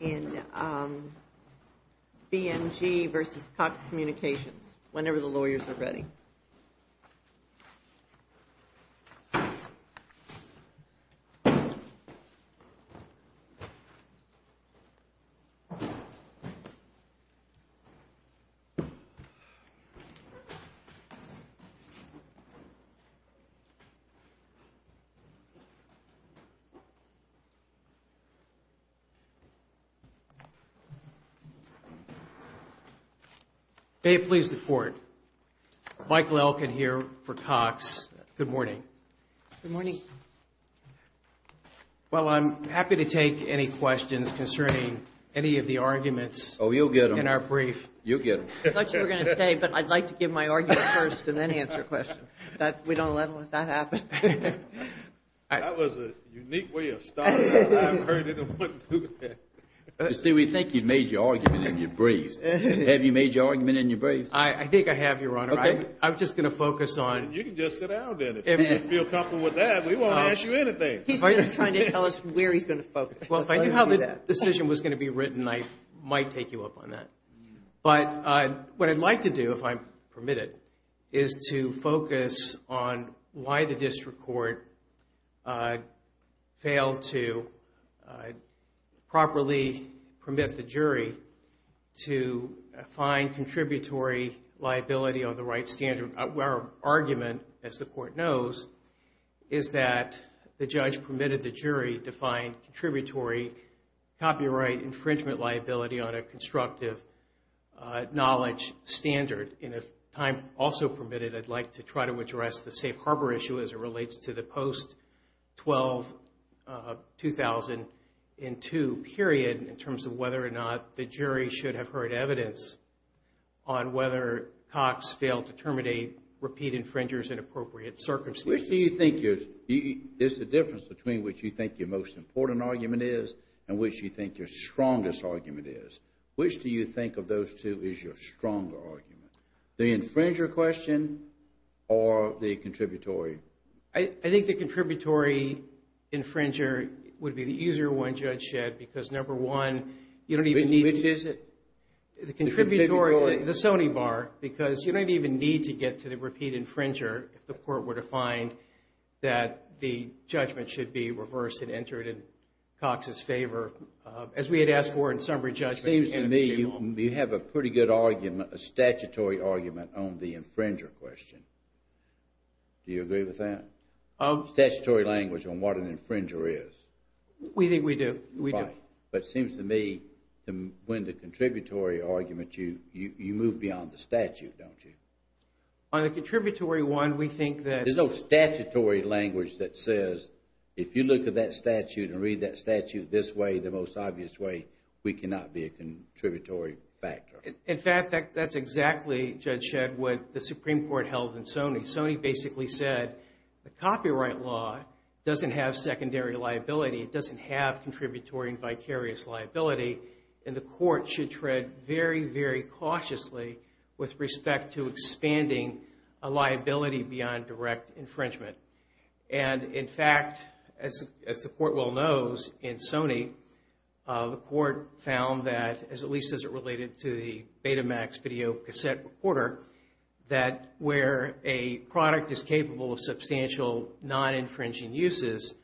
in BMG v. Cox Communications, whenever the lawyers are ready. May it please the Court, Michael Elkin here for Cox, good morning. Good morning. Well, I'm happy to take any questions concerning any of the arguments. Oh, you'll get them. In our brief. You'll get them. I thought you were going to say, but I'd like to give my argument first and then answer questions. We don't let that happen. That was a unique way of starting out. I haven't heard anyone do that. You see, we think you've made your argument in your briefs. Have you made your argument in your briefs? I think I have, Your Honor. Okay. I'm just going to focus on. You can just sit down then. If you feel comfortable with that, we won't ask you anything. He's just trying to tell us where he's going to focus. Well, if I knew how the decision was going to be written, I might take you up on that. But what I'd like to do, if I'm permitted, is to focus on why the district court failed to properly permit the jury to find contributory liability on the right standard. Our argument, as the court knows, is that the judge permitted the jury to find contributory copyright infringement liability on a constructive knowledge standard. And if time also permitted, I'd like to try to address the safe harbor issue as it relates to the post-2002 period in terms of whether or not the jury should have heard evidence on whether Cox failed to terminate repeat infringers in appropriate circumstances. I see you think there's a difference between what you think your most important argument is and what you think your strongest argument is. Which do you think of those two as your strongest arguments? The infringer question or the contributory? I think the contributory infringer would be the easier one, Judge Shedd, because number one, you don't even need. Which is it? The contributory, the Sony bar, because you don't even need to get to the repeat infringer if the court were to find that the judgment should be reversed and entered in Cox's favor. As we had asked for in summary judgment. It seems to me you have a pretty good argument, a statutory argument, on the infringer question. Do you agree with that? Statutory language on what an infringer is. We think we do. We do. But it seems to me when the contributory argument, you move beyond the statute, don't you? On the contributory one, we think that... There's no statutory language that says if you look at that statute and read that statute this way, the most obvious way, we cannot be a contributory factor. In fact, that's exactly, Judge Shedd, what the Supreme Court held in Sony. Sony basically said the copyright law doesn't have secondary liability. It doesn't have contributory and vicarious liability. And the court should tread very, very cautiously with respect to expanding a liability beyond direct infringement. And in fact, as the court well knows in Sony, the court found that, at least as it related to the Betamax video cassette recorder, that where a product is capable of substantial non-infringing uses,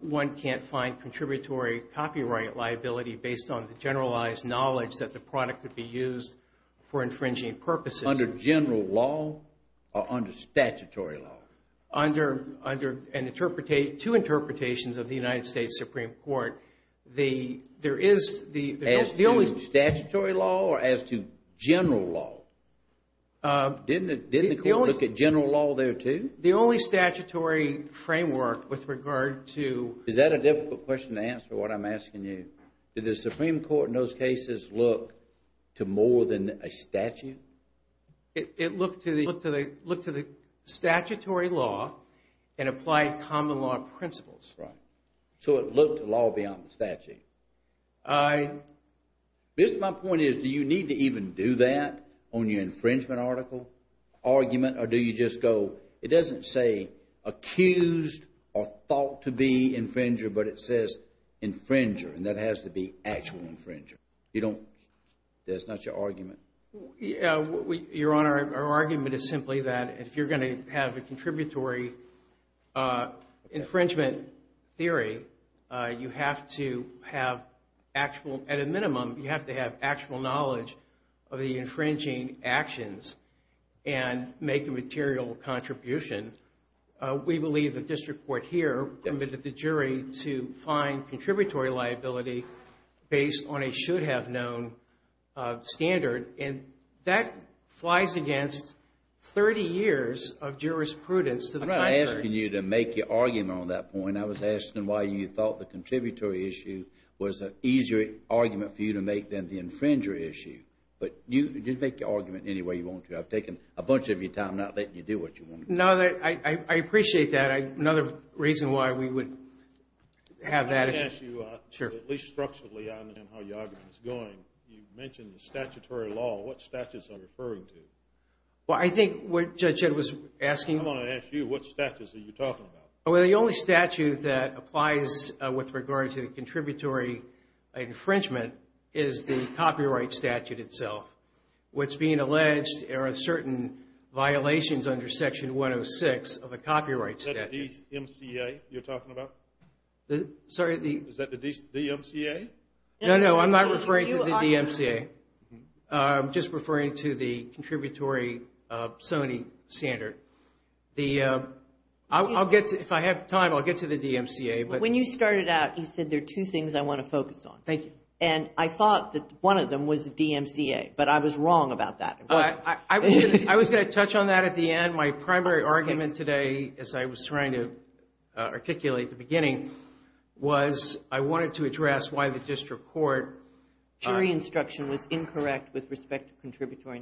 one can't find contributory copyright liability based on the generalized knowledge that the product could be used for infringing purposes. Under general law or under statutory law? Under two interpretations of the United States Supreme Court. As to statutory law or as to general law? Didn't the court look at general law there, too? The only statutory framework with regard to... Is that a difficult question to answer, what I'm asking you? Did the Supreme Court in those cases look to more than a statute? It looked to the statutory law and applied common law principles. Right. So it looked to law beyond the statute. I... My point is, do you need to even do that on your infringement article argument? Or do you just go... It doesn't say accused or thought to be infringer, but it says infringer, and that has to be actual infringer. You don't... That's not your argument? Your Honor, our argument is simply that if you're going to have a contributory infringement theory, you have to have actual... material contribution. We believe the district court here permitted the jury to find contributory liability based on a should-have-known standard, and that flies against 30 years of jurisprudence to the contrary. I'm not asking you to make your argument on that point. I was asking why you thought the contributory issue was an easier argument for you to make than the infringer issue. But you can make your argument any way you want to. I've taken a bunch of your time not letting you do what you want to do. No, I appreciate that. Another reason why we would have that is... Let me ask you, at least structurally, on how your argument is going. You mentioned the statutory law. What statutes are you referring to? Well, I think what Judge Ed was asking... I want to ask you, what statutes are you talking about? Well, the only statute that applies with regard to the contributory infringement is the copyright statute itself. What's being alleged are certain violations under Section 106 of a copyright statute. Is that the DMCA you're talking about? Sorry? Is that the DMCA? No, no. I'm not referring to the DMCA. I'm just referring to the contributory Sony standard. If I have time, I'll get to the DMCA. When you started out, you said there are two things I want to focus on. Thank you. And I thought that one of them was the DMCA, but I was wrong about that. I was going to touch on that at the end. My primary argument today, as I was trying to articulate at the beginning, was I wanted to address why the district court... Jury instruction was incorrect with respect to contributory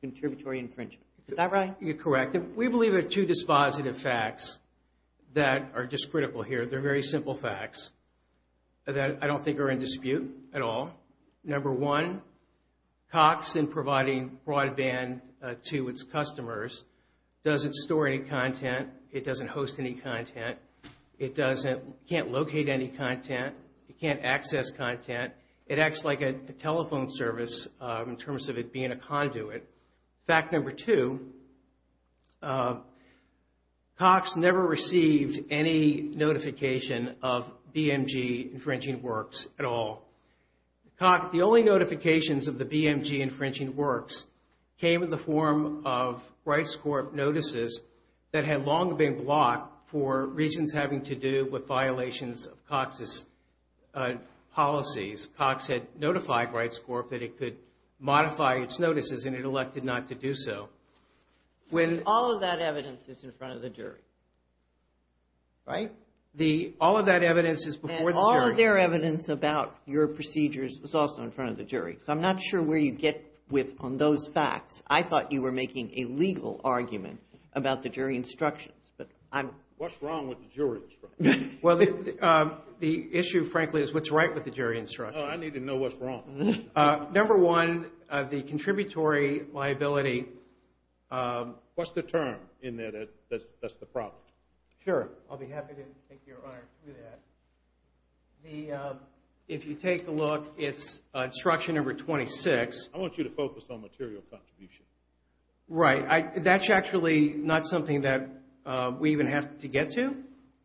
infringement. Is that right? You're correct. We believe there are two dispositive facts that are just critical here. They're very simple facts that I don't think are in dispute at all. Number one, Cox, in providing broadband to its customers, doesn't store any content. It doesn't host any content. It can't locate any content. It can't access content. It acts like a telephone service in terms of it being a conduit. Fact number two, Cox never received any notification of BMG Infringing Works at all. The only notifications of the BMG Infringing Works came in the form of Rights Corp notices that had long been blocked for reasons having to do with violations of Cox's policies. Cox had notified Rights Corp that it could modify its notices, and it elected not to do so. All of that evidence is in front of the jury, right? All of that evidence is before the jury. All of their evidence about your procedures is also in front of the jury. I'm not sure where you get with on those facts. I thought you were making a legal argument about the jury instructions. What's wrong with the jury instructions? Well, the issue, frankly, is what's right with the jury instructions. I need to know what's wrong. Number one, the contributory liability. What's the term in there that's the problem? Sure. I'll be happy to take your honor through that. If you take a look, it's instruction number 26. I want you to focus on material contribution. Right. That's actually not something that we even have to get to.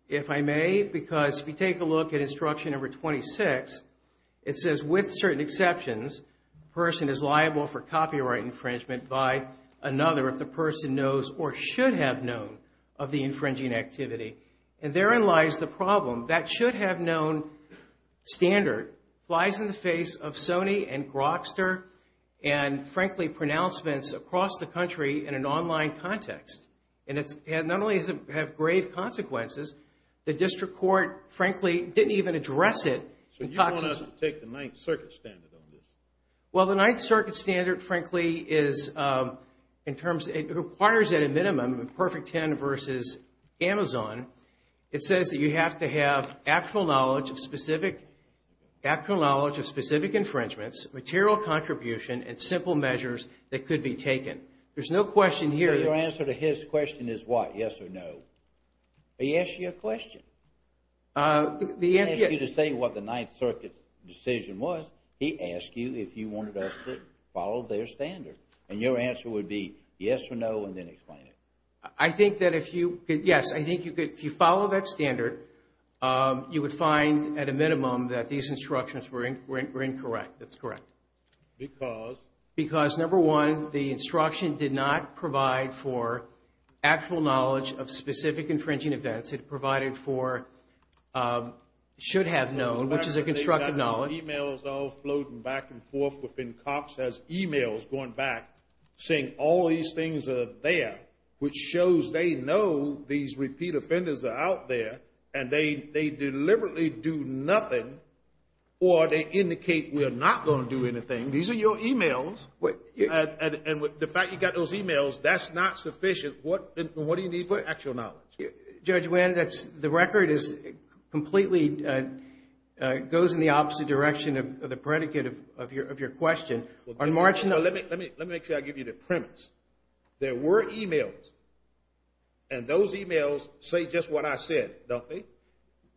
If I may, because if you take a look at instruction number 26, it says, with certain exceptions, a person is liable for copyright infringement by another if the person knows or should have known of the infringing activity. And therein lies the problem. That should-have-known standard flies in the face of Sony and Grokster and, frankly, pronouncements across the country in an online context. And it not only has grave consequences, the district court, frankly, didn't even address it. So you want us to take the Ninth Circuit standard on this? Well, the Ninth Circuit standard, frankly, is in terms of, it requires at a minimum a perfect 10 versus Amazon. It says that you have to have actual knowledge of specific infringements, material contribution, and simple measures that could be taken. There's no question here. Your answer to his question is what, yes or no? He asked you a question. He didn't ask you to say what the Ninth Circuit decision was. He asked you if you wanted us to follow their standard. And your answer would be yes or no and then explain it. I think that if you could, yes, I think if you follow that standard, you would find at a minimum that these instructions were incorrect. That's correct. Because? Because, number one, the instruction did not provide for actual knowledge of specific infringing events. It provided for should have known, which is a constructive knowledge. E-mails all floating back and forth within COPS has e-mails going back saying all these things are there, which shows they know these repeat offenders are out there, and they deliberately do nothing, or they indicate we are not going to do anything. These are your e-mails. And the fact you got those e-mails, that's not sufficient. What do you need for actual knowledge? Judge Wynn, the record is completely, goes in the opposite direction of the predicate of your question. Let me make sure I give you the premise. There were e-mails, and those e-mails say just what I said, don't they?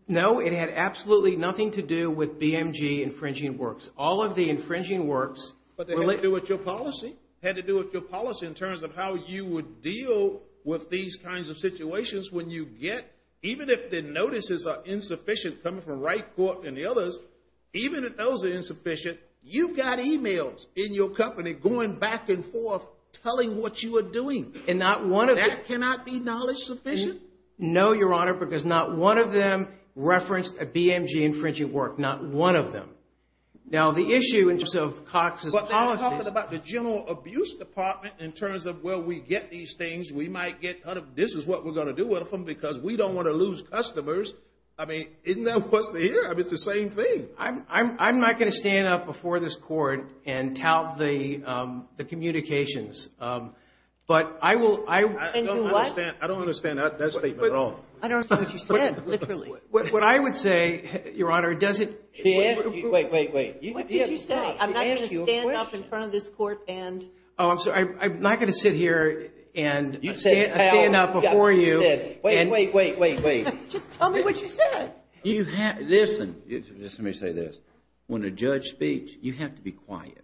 No, it had absolutely nothing to do with BMG infringing works. All of the infringing works. But they had to do with your policy? Had to do with your policy in terms of how you would deal with these kinds of situations when you get, even if the notices are insufficient coming from Wright Court and the others, even if those are insufficient, you've got e-mails in your company going back and forth telling what you are doing. And that cannot be knowledge sufficient? No, Your Honor, because not one of them referenced a BMG infringing work. Not one of them. Now, the issue in terms of Cox's policy. But they were talking about the general abuse department in terms of, well, we get these things, we might get, this is what we're going to do with them because we don't want to lose customers. I mean, isn't that what's here? I mean, it's the same thing. I'm not going to stand up before this Court and tout the communications. But I will. And do what? I don't understand that statement at all. I don't understand what you said, literally. What I would say, Your Honor, doesn't. Wait, wait, wait. What did you say? She asked you a question. I'm not going to stand up in front of this Court and. Oh, I'm sorry. I'm not going to sit here and stand up before you. Wait, wait, wait, wait, wait. Just tell me what you said. Listen, just let me say this. When a judge speaks, you have to be quiet.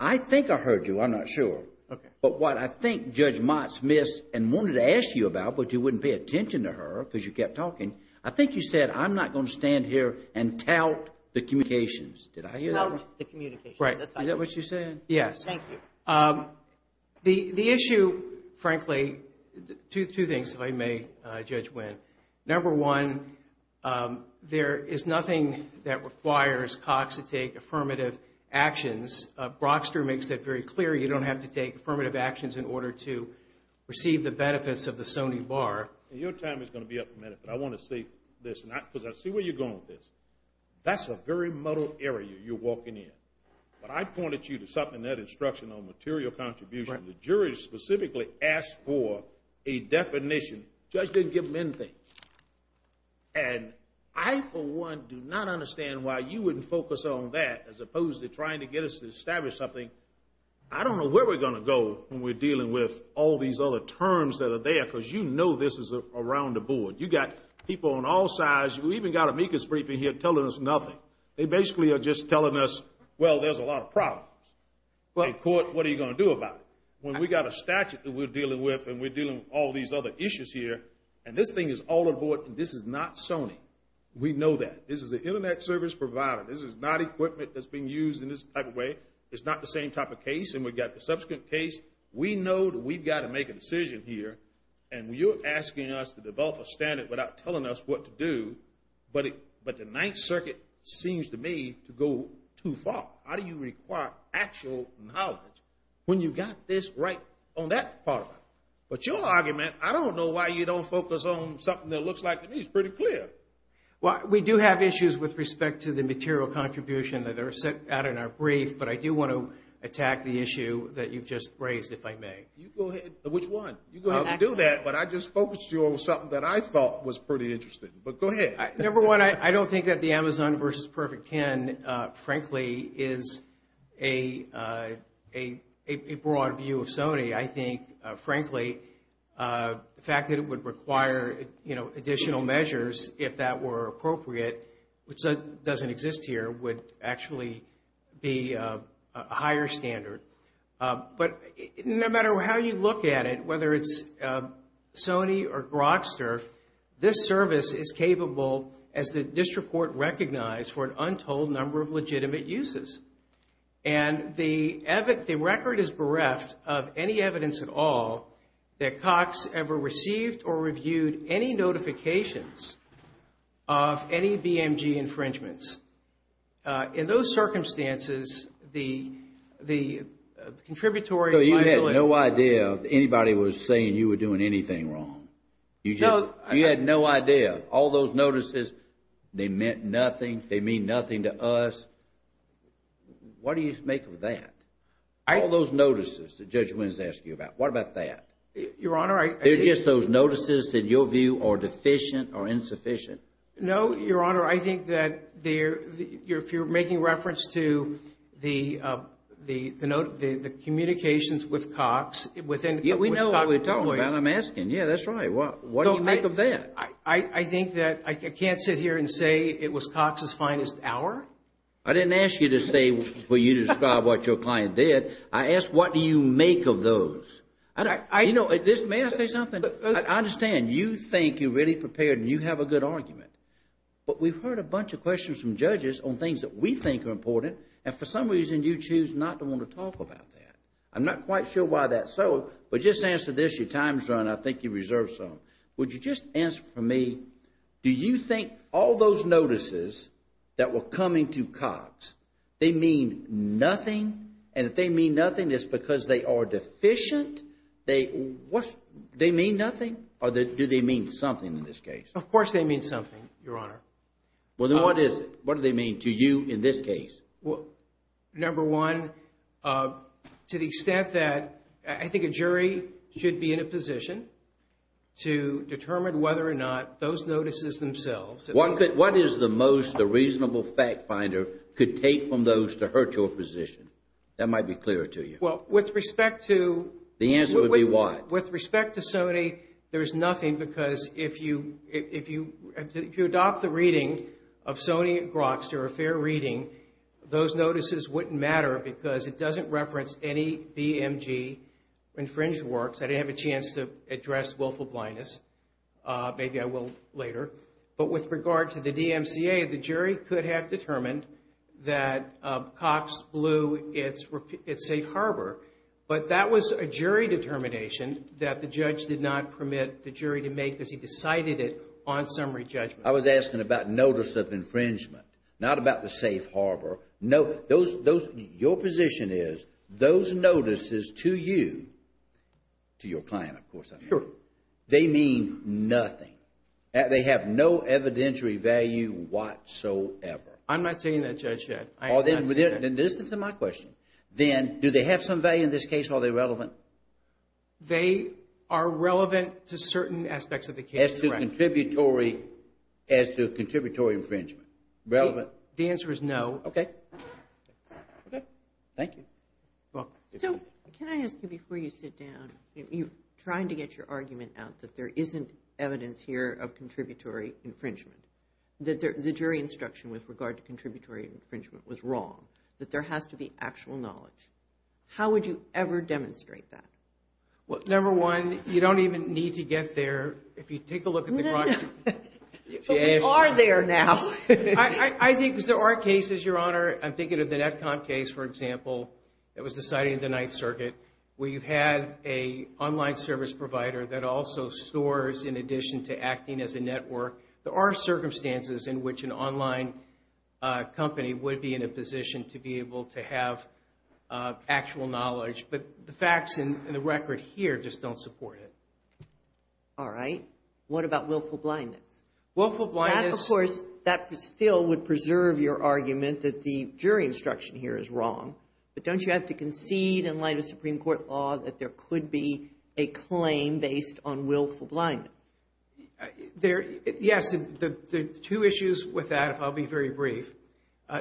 I think I heard you. I'm not sure. Okay. But what I think Judge Motz missed and wanted to ask you about, but you wouldn't pay attention to her because you kept talking, I think you said, I'm not going to stand here and tout the communications. Did I hear that? Tout the communications. Right. Is that what you said? Yes. Thank you. The issue, frankly, two things, if I may, Judge Winn. Number one, there is nothing that requires Cox to take affirmative actions. Brockster makes that very clear. You don't have to take affirmative actions in order to receive the benefits of the Sony bar. Your time is going to be up in a minute, but I want to say this, because I see where you're going with this. That's a very muddled area you're walking in. But I pointed you to something in that instruction on material contribution. The jury specifically asked for a definition. The judge didn't give them anything. And I, for one, do not understand why you wouldn't focus on that as opposed to trying to get us to establish something. I don't know where we're going to go when we're dealing with all these other terms that are there because you know this is around the board. You've got people on all sides. You've even got amicus briefing here telling us nothing. They basically are just telling us, well, there's a lot of problems. In court, what are you going to do about it? When we've got a statute that we're dealing with and we're dealing with all these other issues here, and this thing is all on board, and this is not Sony, we know that. This is an Internet service provider. This is not equipment that's being used in this type of way. It's not the same type of case, and we've got the subsequent case. We know that we've got to make a decision here, and you're asking us to develop a standard without telling us what to do, but the Ninth Circuit seems to me to go too far. How do you require actual knowledge when you've got this right on that part of it? But your argument, I don't know why you don't focus on something that looks like to me is pretty clear. Well, we do have issues with respect to the material contribution that are set out in our brief, but I do want to attack the issue that you've just raised, if I may. Which one? You go ahead and do that, but I just focused you on something that I thought was pretty interesting, but go ahead. Number one, I don't think that the Amazon versus Perfect Kin, frankly, is a broad view of Sony. I think, frankly, the fact that it would require additional measures, if that were appropriate, which doesn't exist here, would actually be a higher standard. But no matter how you look at it, whether it's Sony or Grokster, this service is capable, as the district court recognized, for an untold number of legitimate uses. And the record is bereft of any evidence at all that Cox ever received or reviewed any notifications of any BMG infringements. In those circumstances, the contributory liability... So you had no idea anybody was saying you were doing anything wrong. No. You had no idea. All those notices, they meant nothing, they mean nothing to us. What do you make of that? All those notices that Judge Wins asked you about, what about that? Your Honor, I... Are they just those notices that, in your view, are deficient or insufficient? No, Your Honor. I think that if you're making reference to the communications with Cox... Yeah, we know what we're talking about. I'm asking. Yeah, that's right. What do you make of that? I think that I can't sit here and say it was Cox's finest hour. I didn't ask you to say, for you to describe what your client did. I asked what do you make of those. You know, may I say something? I understand you think you're really prepared and you have a good argument. But we've heard a bunch of questions from judges on things that we think are important. And for some reason, you choose not to want to talk about that. I'm not quite sure why that's so. But just answer this. Your time's run. I think you reserved some. Would you just answer for me, do you think all those notices that were coming to Cox, they mean nothing? And if they mean nothing, it's because they are deficient? They mean nothing? Or do they mean something in this case? Of course they mean something, Your Honor. Well, then what is it? What do they mean to you in this case? Number one, to the extent that I think a jury should be in a position to determine whether or not those notices themselves... That might be clearer to you. Well, with respect to... The answer would be what? With respect to Sony, there's nothing because if you adopt the reading of Sony Grokster, a fair reading, those notices wouldn't matter because it doesn't reference any BMG infringed works. I didn't have a chance to address willful blindness. Maybe I will later. But with regard to the DMCA, the jury could have determined that Cox blew its safe harbor. But that was a jury determination that the judge did not permit the jury to make because he decided it on summary judgment. I was asking about notice of infringement, not about the safe harbor. Your position is those notices to you, to your client, of course, I mean. Sure. They mean nothing. They have no evidentiary value whatsoever. I'm not saying that, Judge, yet. Then this is my question. Then do they have some value in this case? Are they relevant? They are relevant to certain aspects of the case. As to contributory infringement. Relevant? The answer is no. Okay. Okay. Thank you. So, can I ask you before you sit down, you're trying to get your argument out that there isn't evidence here of contributory infringement. That the jury instruction with regard to contributory infringement was wrong. That there has to be actual knowledge. How would you ever demonstrate that? Well, number one, you don't even need to get there. If you take a look at the. We are there now. I think there are cases, Your Honor. I'm thinking of the Netcom case, for example, that was decided in the Ninth Circuit. Where you had an online service provider that also stores in addition to acting as a network. There are circumstances in which an online company would be in a position to be able to have actual knowledge. But the facts and the record here just don't support it. All right. What about willful blindness? Willful blindness. That, of course, that still would preserve your argument that the jury instruction here is wrong. But don't you have to concede in light of Supreme Court law that there could be a claim based on willful blindness? Yes. There are two issues with that, if I'll be very brief.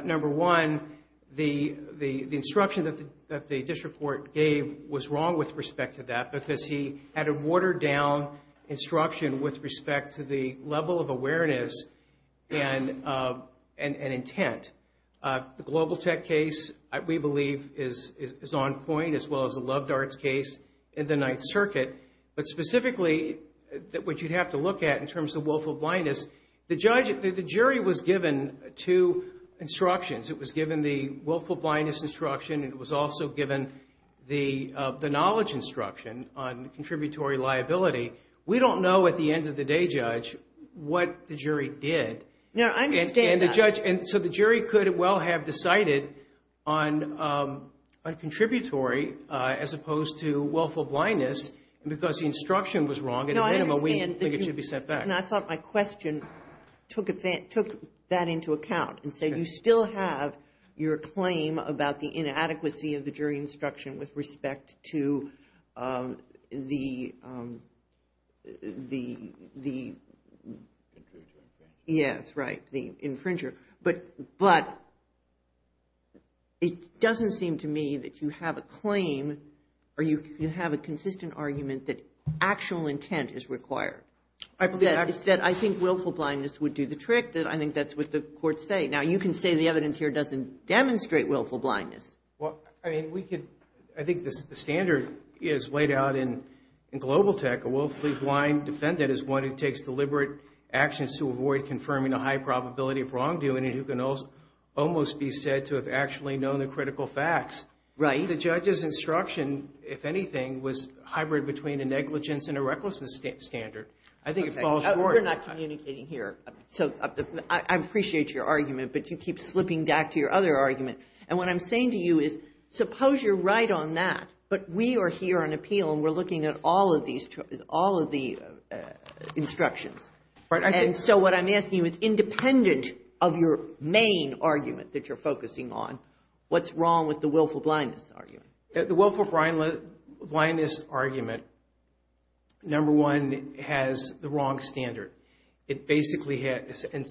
Number one, the instruction that the district court gave was wrong with respect to that. Because he had a watered down instruction with respect to the level of awareness and intent. The Global Tech case, we believe, is on point as well as the Loved Arts case in the Ninth Circuit. But specifically, what you'd have to look at in terms of willful blindness, the jury was given two instructions. It was given the willful blindness instruction. It was also given the knowledge instruction on contributory liability. We don't know at the end of the day, Judge, what the jury did. No, I understand that. And so the jury could well have decided on contributory as opposed to willful blindness. And because the instruction was wrong, at a minimum, we think it should be set back. And I thought my question took that into account. And so you still have your claim about the inadequacy of the jury instruction with respect to the infringer. But it doesn't seem to me that you have a claim or you have a consistent argument that actual intent is required. It's that I think willful blindness would do the trick, that I think that's what the courts say. Now, you can say the evidence here doesn't demonstrate willful blindness. Well, I think the standard is laid out in Global Tech. A willfully blind defendant is one who takes deliberate actions to avoid confirming a high probability of wrongdoing and who can almost be said to have actually known the critical facts. Right. I think the judge's instruction, if anything, was hybrid between a negligence and a recklessness standard. I think it falls short. We're not communicating here. So I appreciate your argument, but you keep slipping back to your other argument. And what I'm saying to you is, suppose you're right on that, but we are here on appeal and we're looking at all of these instructions. And so what I'm asking you is, independent of your main argument that you're focusing on, what's wrong with the willful blindness argument? The willful blindness argument, number one, has the wrong standard. It basically has, and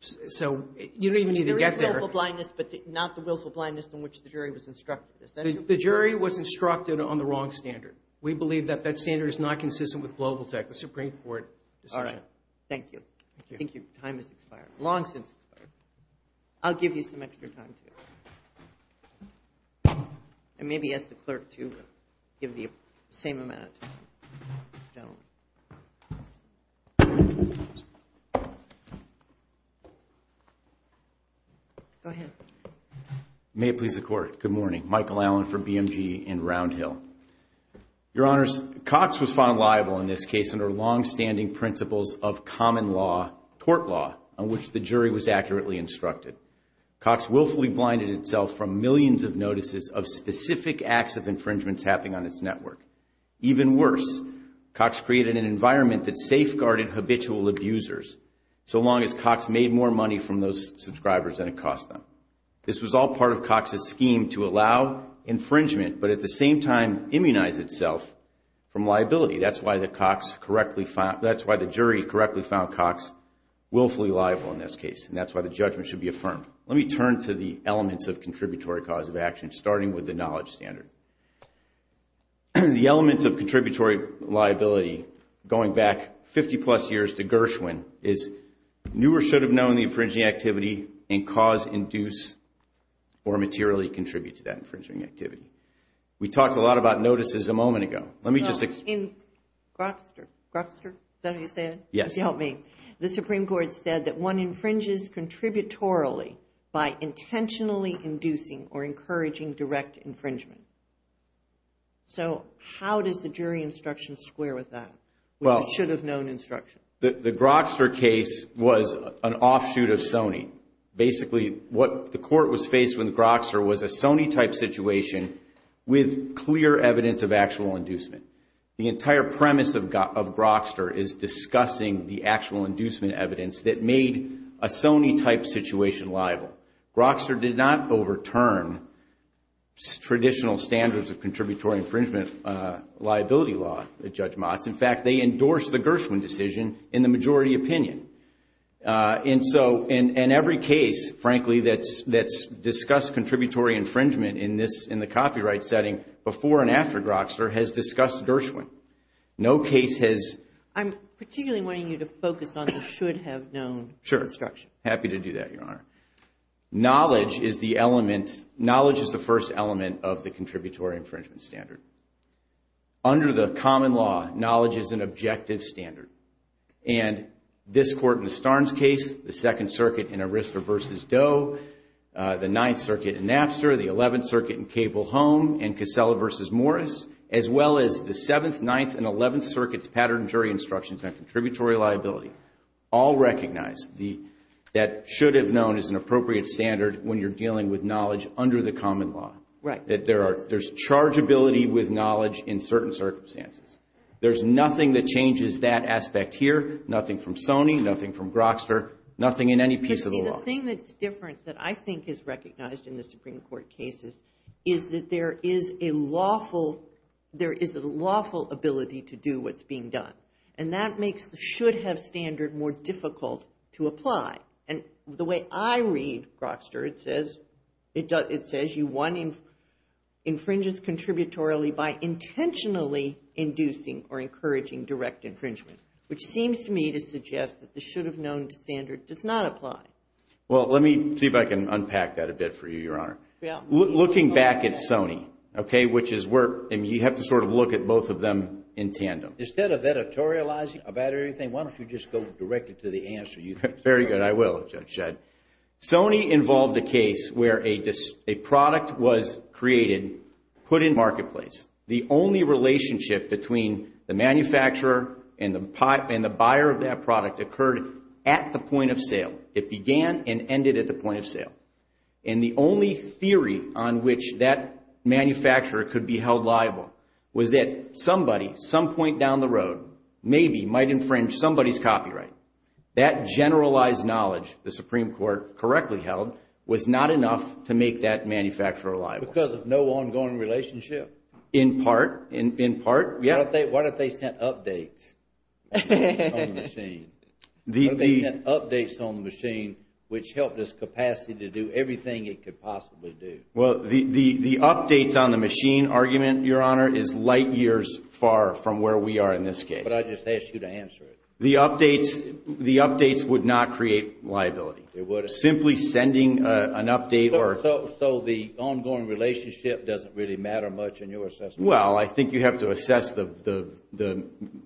so you don't even need to get there. There is willful blindness, but not the willful blindness in which the jury was instructed. The jury was instructed on the wrong standard. We believe that that standard is not consistent with Global Tech. The Supreme Court decided. All right. Thank you. Thank you. Your time has expired. Long since expired. I'll give you some extra time, too. And maybe ask the clerk to give you the same amount of time. Go ahead. May it please the Court. Good morning. Michael Allen from BMG in Round Hill. Your Honors, Cox was found liable in this case under longstanding principles of common law, tort law, on which the jury was accurately instructed. Cox willfully blinded itself from millions of notices of specific acts of infringements happening on its network. Even worse, Cox created an environment that safeguarded habitual abusers, so long as Cox made more money from those subscribers than it cost them. This was all part of Cox's scheme to allow infringement, but at the same time immunize itself from liability. That's why the jury correctly found Cox willfully liable in this case, and that's why the judgment should be affirmed. Let me turn to the elements of contributory cause of action, starting with the knowledge standard. The elements of contributory liability, going back 50-plus years to Gershwin, is knew or should have known the infringing activity and cause, induce, or materially contribute to that infringing activity. We talked a lot about notices a moment ago. Let me just explain. In Grokster, Grokster, is that how you say it? Yes. Help me. The Supreme Court said that one infringes contributorily by intentionally inducing or encouraging direct infringement. So how does the jury instruction square with that, should have known instruction? The Grokster case was an offshoot of Sony. Basically, what the court was faced with Grokster was a Sony-type situation with clear evidence of actual inducement. The entire premise of Grokster is discussing the actual inducement evidence that made a Sony-type situation liable. Grokster did not overturn traditional standards of contributory infringement liability law, Judge Moss. In fact, they endorsed the Gershwin decision in the majority opinion. In every case, frankly, that's discussed contributory infringement in the copyright setting before and after Grokster has discussed Gershwin. No case has. I'm particularly wanting you to focus on the should have known instruction. Sure. Happy to do that, Your Honor. Knowledge is the first element of the contributory infringement standard. Under the common law, knowledge is an objective standard. And this Court in the Starnes case, the Second Circuit in Arista v. Doe, the Ninth Circuit in Napster, the Eleventh Circuit in Cable Home, and Casella v. Morris, as well as the Seventh, Ninth, and Eleventh Circuits pattern jury instructions on contributory liability, all recognize that should have known is an appropriate standard when you're dealing with knowledge under the common law. Right. That there's chargeability with knowledge in certain circumstances. There's nothing that changes that aspect here. Nothing from Sony, nothing from Grokster, nothing in any piece of the law. The thing that's different that I think is recognized in the Supreme Court cases is that there is a lawful ability to do what's being done. And that makes the should have standard more difficult to apply. And the way I read Grokster, it says one infringes contributory by intentionally inducing or encouraging direct infringement, which seems to me to suggest that the should have known standard does not apply. Well, let me see if I can unpack that a bit for you, Your Honor. Looking back at Sony, okay, which is where you have to sort of look at both of them in tandem. Instead of editorializing about everything, Very good. I will, Judge Shedd. Sony involved a case where a product was created, put in marketplace. The only relationship between the manufacturer and the buyer of that product occurred at the point of sale. It began and ended at the point of sale. And the only theory on which that manufacturer could be held liable was that somebody, some point down the road, maybe might infringe somebody's copyright. That generalized knowledge, the Supreme Court correctly held, was not enough to make that manufacturer liable. Because of no ongoing relationship. In part, in part, yeah. Why don't they send updates on the machine? Why don't they send updates on the machine, which helped its capacity to do everything it could possibly do? Well, the updates on the machine argument, Your Honor, is light years far from where we are in this case. But I just asked you to answer it. The updates would not create liability. Simply sending an update or... So the ongoing relationship doesn't really matter much in your assessment? Well, I think you have to assess the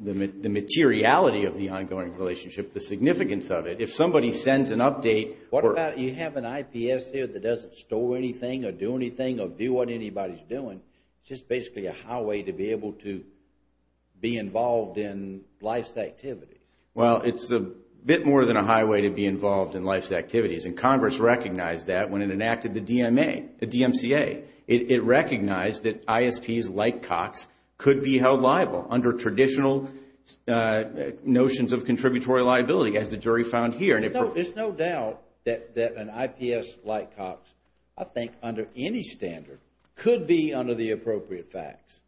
materiality of the ongoing relationship, the significance of it. If somebody sends an update... What about, you have an IPS here that doesn't store anything or do anything or view what anybody's doing, just basically a highway to be able to be involved in life's activities? Well, it's a bit more than a highway to be involved in life's activities. And Congress recognized that when it enacted the DMCA. It recognized that ISPs like Cox could be held liable under traditional notions of contributory liability, as the jury found here. There's no doubt that an IPS like Cox, I think, under any standard, could be under the appropriate facts.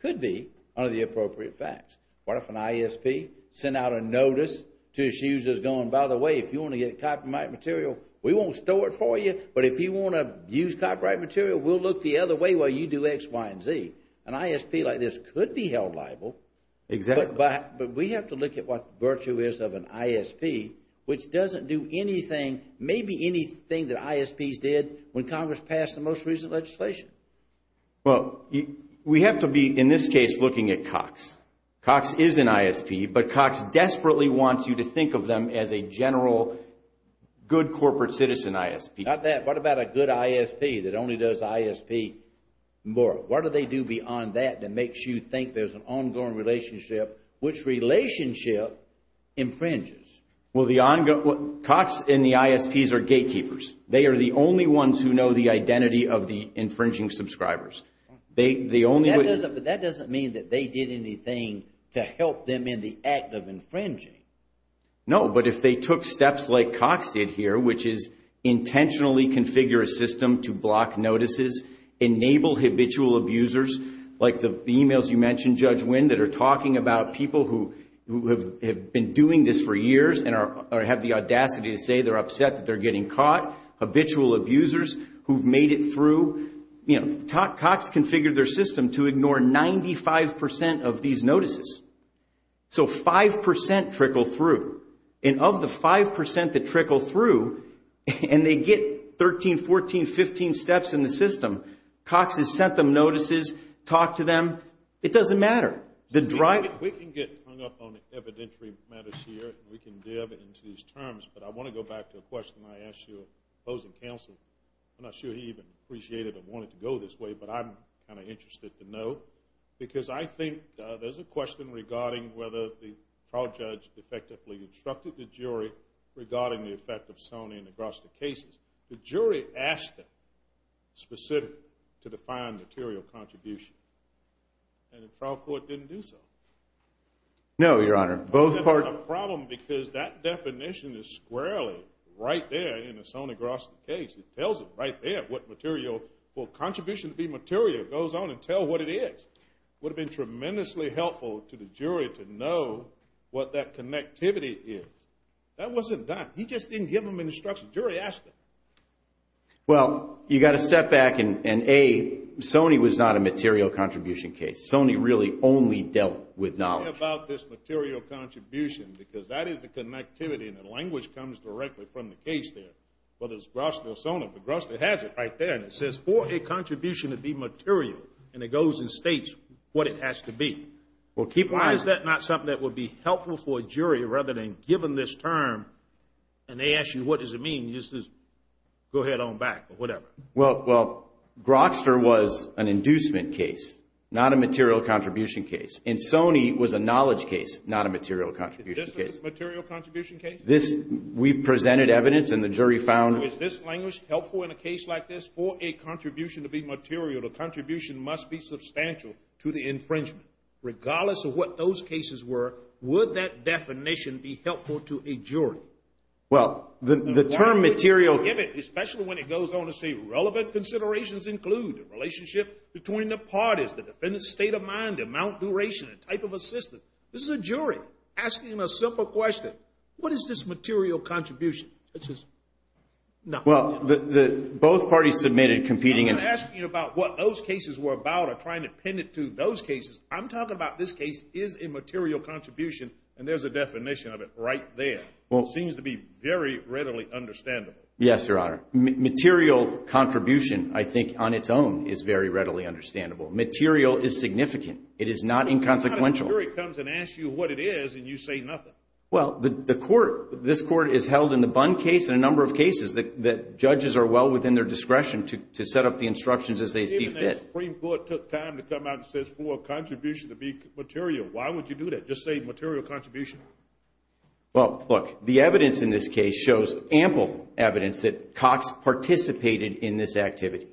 Could be under the appropriate facts. What if an ISP sent out a notice to his users going, by the way, if you want to get copyright material, we won't store it for you. But if you want to use copyright material, we'll look the other way while you do X, Y, and Z. An ISP like this could be held liable. Exactly. But we have to look at what the virtue is of an ISP, which doesn't do anything, maybe anything that ISPs did when Congress passed the most recent legislation. Well, we have to be, in this case, looking at Cox. Cox is an ISP, but Cox desperately wants you to think of them as a general good corporate citizen ISP. Not that. What about a good ISP that only does ISP more? What do they do beyond that that makes you think there's an ongoing relationship, which relationship infringes? Well, Cox and the ISPs are gatekeepers. They are the only ones who know the identity of the infringing subscribers. That doesn't mean that they did anything to help them in the act of infringing. No, but if they took steps like Cox did here, which is intentionally configure a system to block notices, enable habitual abusers, like the emails you mentioned, Judge Wynn, that are talking about people who have been doing this for years and have the audacity to say they're upset that they're getting caught, habitual abusers who've made it through, Cox configured their system to ignore 95% of these notices. So 5% trickle through. And of the 5% that trickle through, and they get 13, 14, 15 steps in the system, Cox has sent them notices, talked to them. It doesn't matter. We can get hung up on evidentiary matters here. We can dive into these terms. But I want to go back to a question I asked your opposing counsel. I'm not sure he even appreciated or wanted to go this way, but I'm kind of interested to know because I think there's a question regarding whether the trial judge effectively instructed the jury regarding the effect of Sony in the Groster cases. The jury asked them specifically to define material contribution. And the trial court didn't do so. No, Your Honor. That's a problem because that definition is squarely right there in the Sony Groster case. It tells it right there what material, what contribution to be material goes on and tell what it is. It would have been tremendously helpful to the jury to know what that connectivity is. That wasn't done. He just didn't give them instructions. The jury asked them. Well, you've got to step back and, A, Sony was not a material contribution case. Sony really only dealt with knowledge. Tell me about this material contribution because that is the connectivity and the language comes directly from the case there. Whether it's Groster or Sony. The Groster has it right there and it says for a contribution to be material and it goes and states what it has to be. Why is that not something that would be helpful for a jury rather than given this term and they ask you what does it mean, you just go ahead on back or whatever. Well, Groster was an inducement case, not a material contribution case, and Sony was a knowledge case, not a material contribution case. Is this a material contribution case? We presented evidence and the jury found. Is this language helpful in a case like this for a contribution to be material? A contribution must be substantial to the infringement. Regardless of what those cases were, would that definition be helpful to a jury? Well, the term material. Especially when it goes on to say relevant considerations include relationship between the parties, the defendant's state of mind, amount, duration, and type of assistance. This is a jury asking a simple question. What is this material contribution? Well, both parties submitted competing. I'm not asking you about what those cases were about or trying to pin it to those cases. I'm talking about this case is a material contribution, and there's a definition of it right there. It seems to be very readily understandable. Yes, Your Honor. Material contribution, I think, on its own is very readily understandable. Material is significant. It is not inconsequential. What if the jury comes and asks you what it is and you say nothing? Well, this Court is held in the Bund case and a number of cases that judges are well within their discretion to set up the instructions as they see fit. If the Supreme Court took time to come out and says for a contribution to be material, why would you do that? Just say material contribution. Well, look, the evidence in this case shows ample evidence that Cox participated in this activity.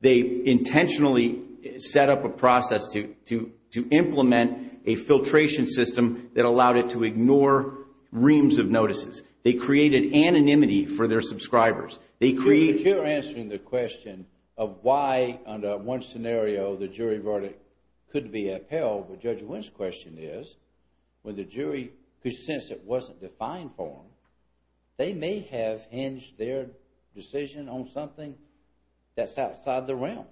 They intentionally set up a process to implement a filtration system that allowed it to ignore reams of notices. They created anonymity for their subscribers. But you're answering the question of why, under one scenario, the jury verdict could be upheld. But Judge Wynn's question is when the jury could sense it wasn't defined for them, they may have hinged their decision on something that's outside the realm.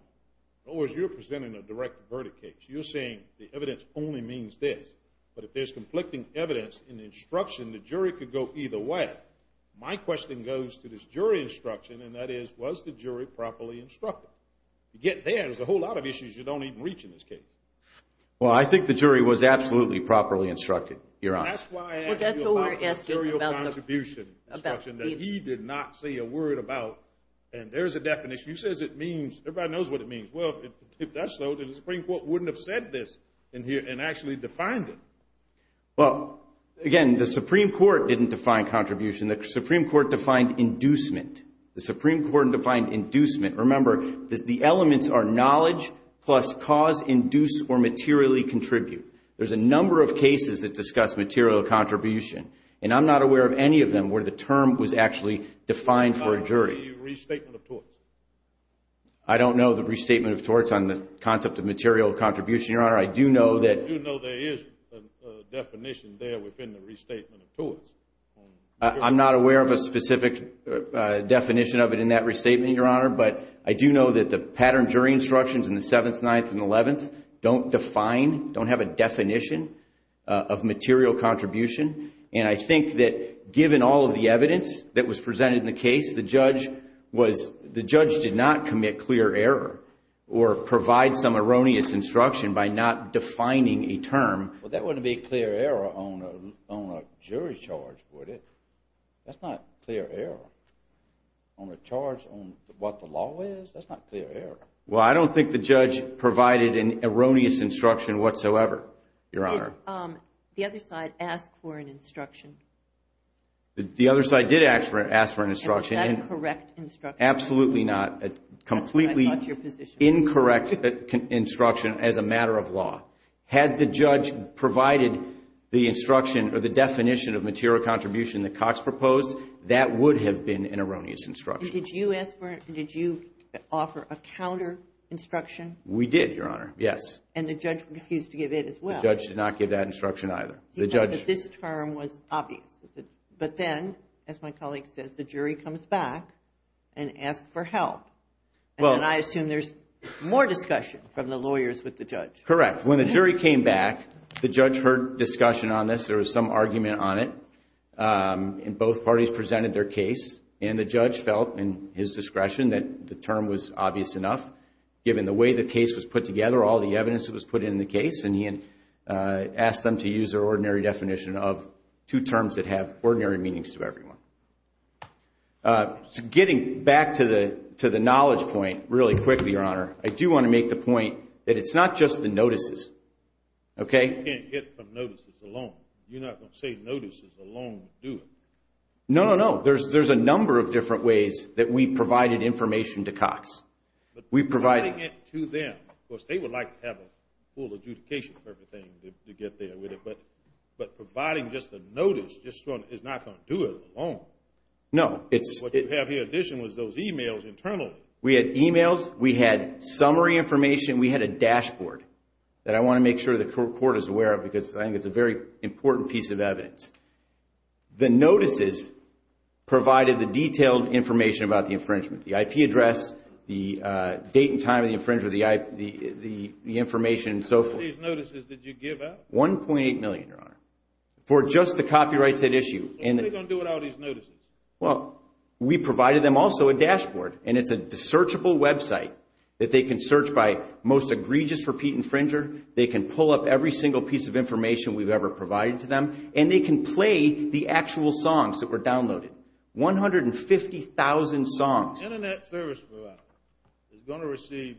You're presenting a direct verdict case. You're saying the evidence only means this. But if there's conflicting evidence in the instruction, the jury could go either way. My question goes to this jury instruction, and that is, was the jury properly instructed? To get there, there's a whole lot of issues you don't even reach in this case. Well, I think the jury was absolutely properly instructed, Your Honor. That's why I asked you about the material contribution instruction, that he did not say a word about. And there's a definition. He says it means, everybody knows what it means. Well, if that's so, then the Supreme Court wouldn't have said this and actually defined it. Well, again, the Supreme Court didn't define contribution. The Supreme Court defined inducement. The Supreme Court defined inducement. Remember, the elements are knowledge plus cause, induce, or materially contribute. There's a number of cases that discuss material contribution, and I'm not aware of any of them where the term was actually defined for a jury. How about the restatement of torts? I don't know the restatement of torts on the concept of material contribution, Your Honor. I do know there is a definition there within the restatement of torts. I'm not aware of a specific definition of it in that restatement, Your Honor, but I do know that the pattern jury instructions in the 7th, 9th, and 11th don't define, don't have a definition of material contribution. And I think that given all of the evidence that was presented in the case, the judge did not commit clear error or provide some erroneous instruction by not defining a term. Well, that wouldn't be clear error on a jury charge, would it? That's not clear error. On a charge on what the law is, that's not clear error. Well, I don't think the judge provided an erroneous instruction whatsoever, Your Honor. The other side asked for an instruction. The other side did ask for an instruction. And was that a correct instruction? Absolutely not. A completely incorrect instruction as a matter of law. Had the judge provided the instruction or the definition of material contribution that Cox proposed, that would have been an erroneous instruction. Did you offer a counter instruction? We did, Your Honor, yes. And the judge refused to give it as well. The judge did not give that instruction either. He thought that this term was obvious. But then, as my colleague says, the jury comes back and asks for help. And I assume there's more discussion from the lawyers with the judge. Correct. When the jury came back, the judge heard discussion on this. There was some argument on it. And both parties presented their case. And the judge felt, in his discretion, that the term was obvious enough, given the way the case was put together, all the evidence that was put in the case. And he asked them to use their ordinary definition of two terms that have ordinary meanings to everyone. Getting back to the knowledge point really quickly, Your Honor, I do want to make the point that it's not just the notices. You can't get from notices alone. You're not going to say notices alone do it. No, no, no. Providing it to them, of course, they would like to have a full adjudication for everything to get there with it. But providing just a notice is not going to do it alone. No. What you have here in addition was those e-mails internally. We had e-mails. We had summary information. We had a dashboard that I want to make sure the court is aware of because I think it's a very important piece of evidence. The notices provided the detailed information about the infringement. The IP address, the date and time of the infringement, the information and so forth. How many of these notices did you give out? 1.8 million, Your Honor, for just the copyrights at issue. What are they going to do with all these notices? Well, we provided them also a dashboard. And it's a searchable website that they can search by most egregious repeat infringer. They can pull up every single piece of information we've ever provided to them. And they can play the actual songs that were downloaded, 150,000 songs. Internet service provider is going to receive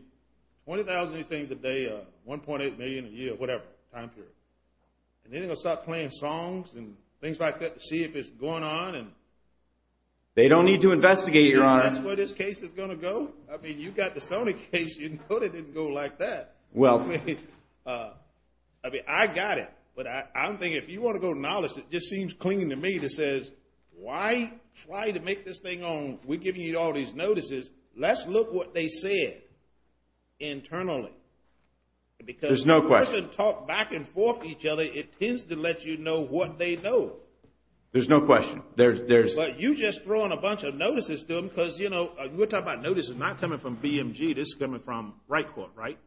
20,000 of these things a day, 1.8 million a year, whatever, time period. And they're going to start playing songs and things like that to see if it's going on. They don't need to investigate, Your Honor. That's where this case is going to go. I mean, you've got the Sony case. You know they didn't go like that. I mean, I got it. But I'm thinking if you want to go to knowledge, it just seems clinging to me that says, Why try to make this thing on? We're giving you all these notices. Let's look what they said internally. There's no question. Because when a person talks back and forth with each other, it tends to let you know what they know. There's no question. But you're just throwing a bunch of notices to them because, you know, we're talking about notices not coming from BMG. This is coming from Wright Court, right?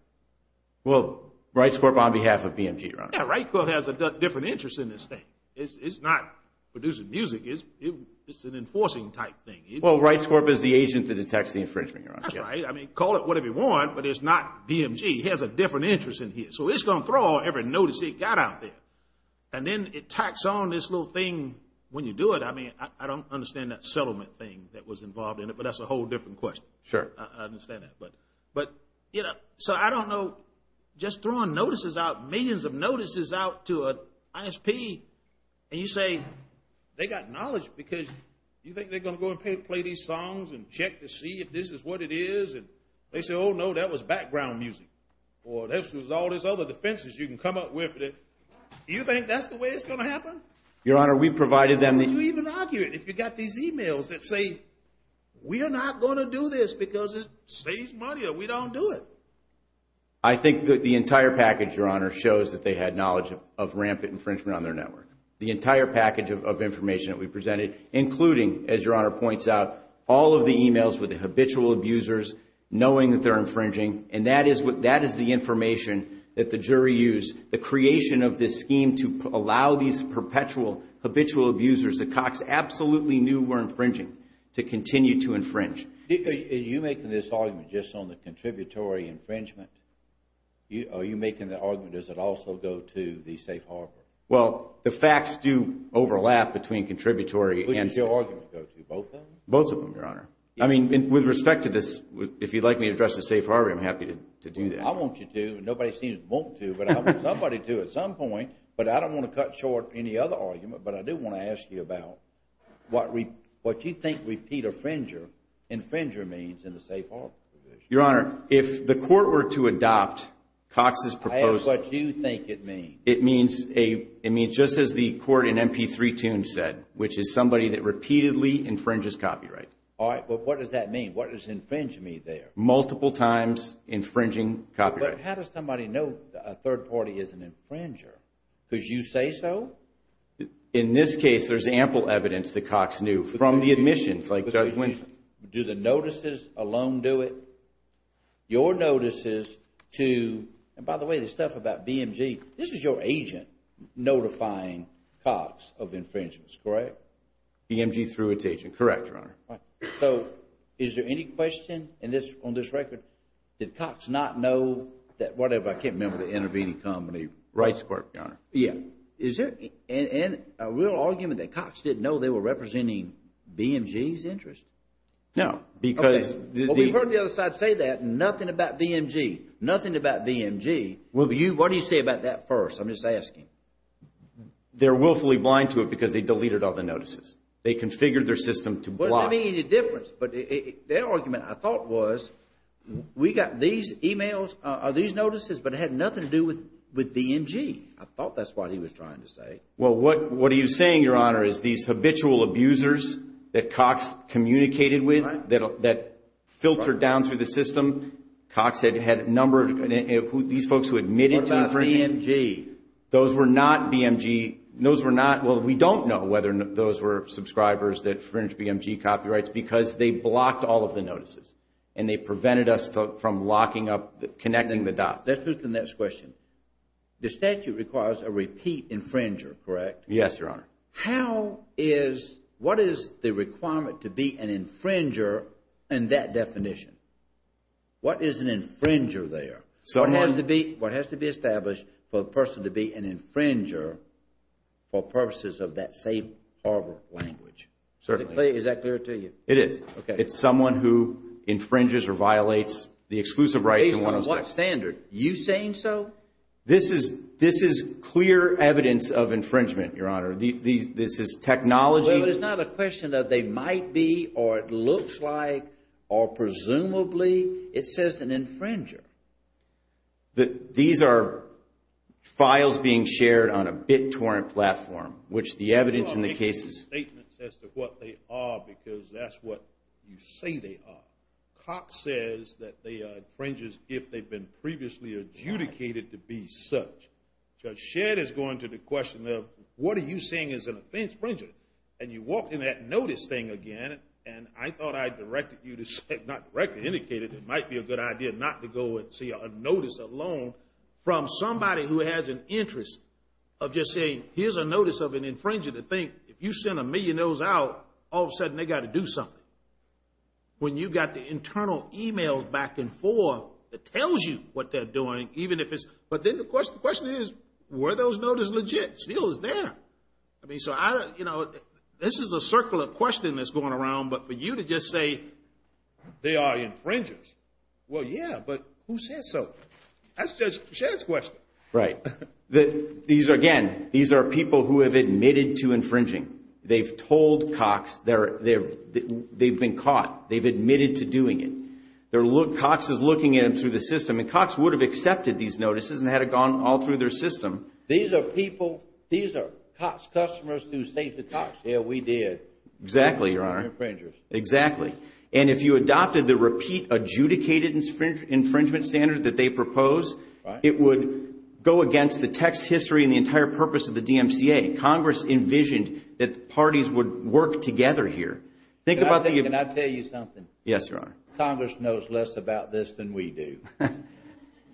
Well, Wright Court on behalf of BMG, Your Honor. Yeah, Wright Court has a different interest in this thing. It's not producing music. It's an enforcing type thing. Well, Wright Court is the agent that detects the infringement, Your Honor. That's right. I mean, call it whatever you want, but it's not BMG. It has a different interest in here. So it's going to throw every notice it got out there. And then it tacks on this little thing when you do it. I mean, I don't understand that settlement thing that was involved in it, but that's a whole different question. Sure. I understand that. But, you know, so I don't know, just throwing notices out, millions of notices out to an ISP, and you say they got knowledge because you think they're going to go and play these songs and check to see if this is what it is? And they say, oh, no, that was background music. Or this was all these other defenses you can come up with. You think that's the way it's going to happen? Your Honor, we provided them the— I think that the entire package, Your Honor, shows that they had knowledge of rampant infringement on their network. The entire package of information that we presented, including, as Your Honor points out, all of the e-mails with the habitual abusers, knowing that they're infringing, and that is the information that the jury used, the creation of this scheme to allow these perpetual habitual abusers that Cox absolutely knew were infringing to continue to infringe. Are you making this argument just on the contributory infringement? Are you making the argument, does it also go to the safe harbor? Well, the facts do overlap between contributory and— Who does your argument go to, both of them? Both of them, Your Honor. I mean, with respect to this, if you'd like me to address the safe harbor, I'm happy to do that. Well, I want you to. Nobody seems to want to, but I want somebody to at some point. But I don't want to cut short any other argument. But I do want to ask you about what you think repeat infringer means in the safe harbor position. Your Honor, if the court were to adopt Cox's proposal— I have what you think it means. It means just as the court in MP3 Toon said, which is somebody that repeatedly infringes copyright. All right, but what does that mean? What does infringe mean there? Multiple times infringing copyright. But how does somebody know a third party is an infringer? Because you say so? In this case, there's ample evidence that Cox knew from the admissions, like Judge Winston. Do the notices alone do it? Your notices to—and by the way, this stuff about BMG. This is your agent notifying Cox of infringements, correct? BMG threw its agent. Correct, Your Honor. All right. So, is there any question on this record? Did Cox not know that whatever—I can't remember the intervening company. Rights Court, Your Honor. Yeah. Is there a real argument that Cox didn't know they were representing BMG's interest? No, because— Well, we heard the other side say that. Nothing about BMG. Nothing about BMG. What do you say about that first? I'm just asking. They're willfully blind to it because they deleted all the notices. They configured their system to block. But their argument, I thought, was we got these emails or these notices, but it had nothing to do with BMG. I thought that's what he was trying to say. Well, what he was saying, Your Honor, is these habitual abusers that Cox communicated with that filtered down through the system. Cox had a number of these folks who admitted to infringement. What about BMG? Those were not BMG. Well, we don't know whether those were subscribers that infringed BMG copyrights because they blocked all of the notices, and they prevented us from locking up, connecting the dots. That puts the next question. The statute requires a repeat infringer, correct? Yes, Your Honor. How is—what is the requirement to be an infringer in that definition? What is an infringer there? What has to be established for a person to be an infringer for purposes of that same harbor language? Certainly. Is that clear to you? It is. It's someone who infringes or violates the exclusive rights in 106. Based on what standard? Are you saying so? This is clear evidence of infringement, Your Honor. This is technology. Well, it is not a question of they might be or it looks like or presumably. It says an infringer. These are files being shared on a BitTorrent platform, which the evidence in the case is— You are making statements as to what they are because that's what you say they are. Cox says that they are infringers if they've been previously adjudicated to be such. Judge Shedd is going to the question of what are you saying is an infringer? And you walk in that notice thing again, and I thought I directed you to say—not directed, indicated— it might be a good idea not to go and see a notice alone from somebody who has an interest of just saying, here's a notice of an infringer to think if you send a million of those out, all of a sudden they've got to do something. When you've got the internal emails back and forth that tells you what they're doing, even if it's— but then the question is, were those notices legit? It's still there. This is a circle of questioning that's going around, but for you to just say they are infringers. Well, yeah, but who said so? That's Judge Shedd's question. Right. Again, these are people who have admitted to infringing. They've told Cox they've been caught. They've admitted to doing it. Cox is looking at them through the system, and Cox would have accepted these notices and had it gone all through their system. These are people—these are Cox customers who say to Cox, yeah, we did. Exactly, Your Honor. We're infringers. Exactly. And if you adopted the repeat adjudicated infringement standard that they proposed, it would go against the text history and the entire purpose of the DMCA. Congress envisioned that parties would work together here. Think about the— Can I tell you something? Yes, Your Honor. Congress knows less about this than we do.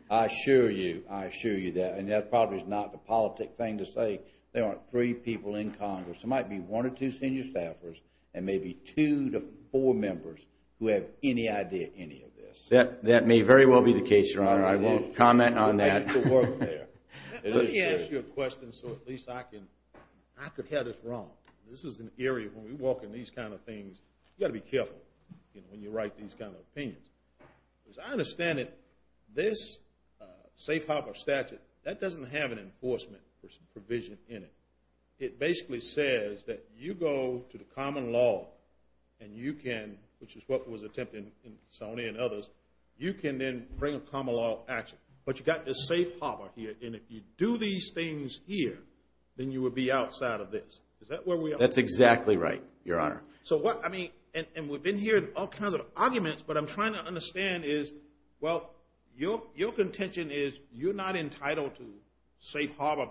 I assure you, I assure you that, and that probably is not the politic thing to say, there aren't three people in Congress. There might be one or two senior staffers and maybe two to four members who have any idea of any of this. That may very well be the case, Your Honor. I won't comment on that. Let me ask you a question so at least I can—I could have this wrong. This is an area when we walk in these kind of things, you've got to be careful when you write these kind of opinions. As I understand it, this safe harbor statute, that doesn't have an enforcement provision in it. It basically says that you go to the common law and you can, which is what was attempted in Sony and others, you can then bring a common law action. But you've got this safe harbor here, and if you do these things here, then you would be outside of this. Is that where we are? That's exactly right, Your Honor. So what—I mean, and we've been hearing all kinds of arguments, but I'm trying to understand is, well, your contention is you're not entitled to safe harbor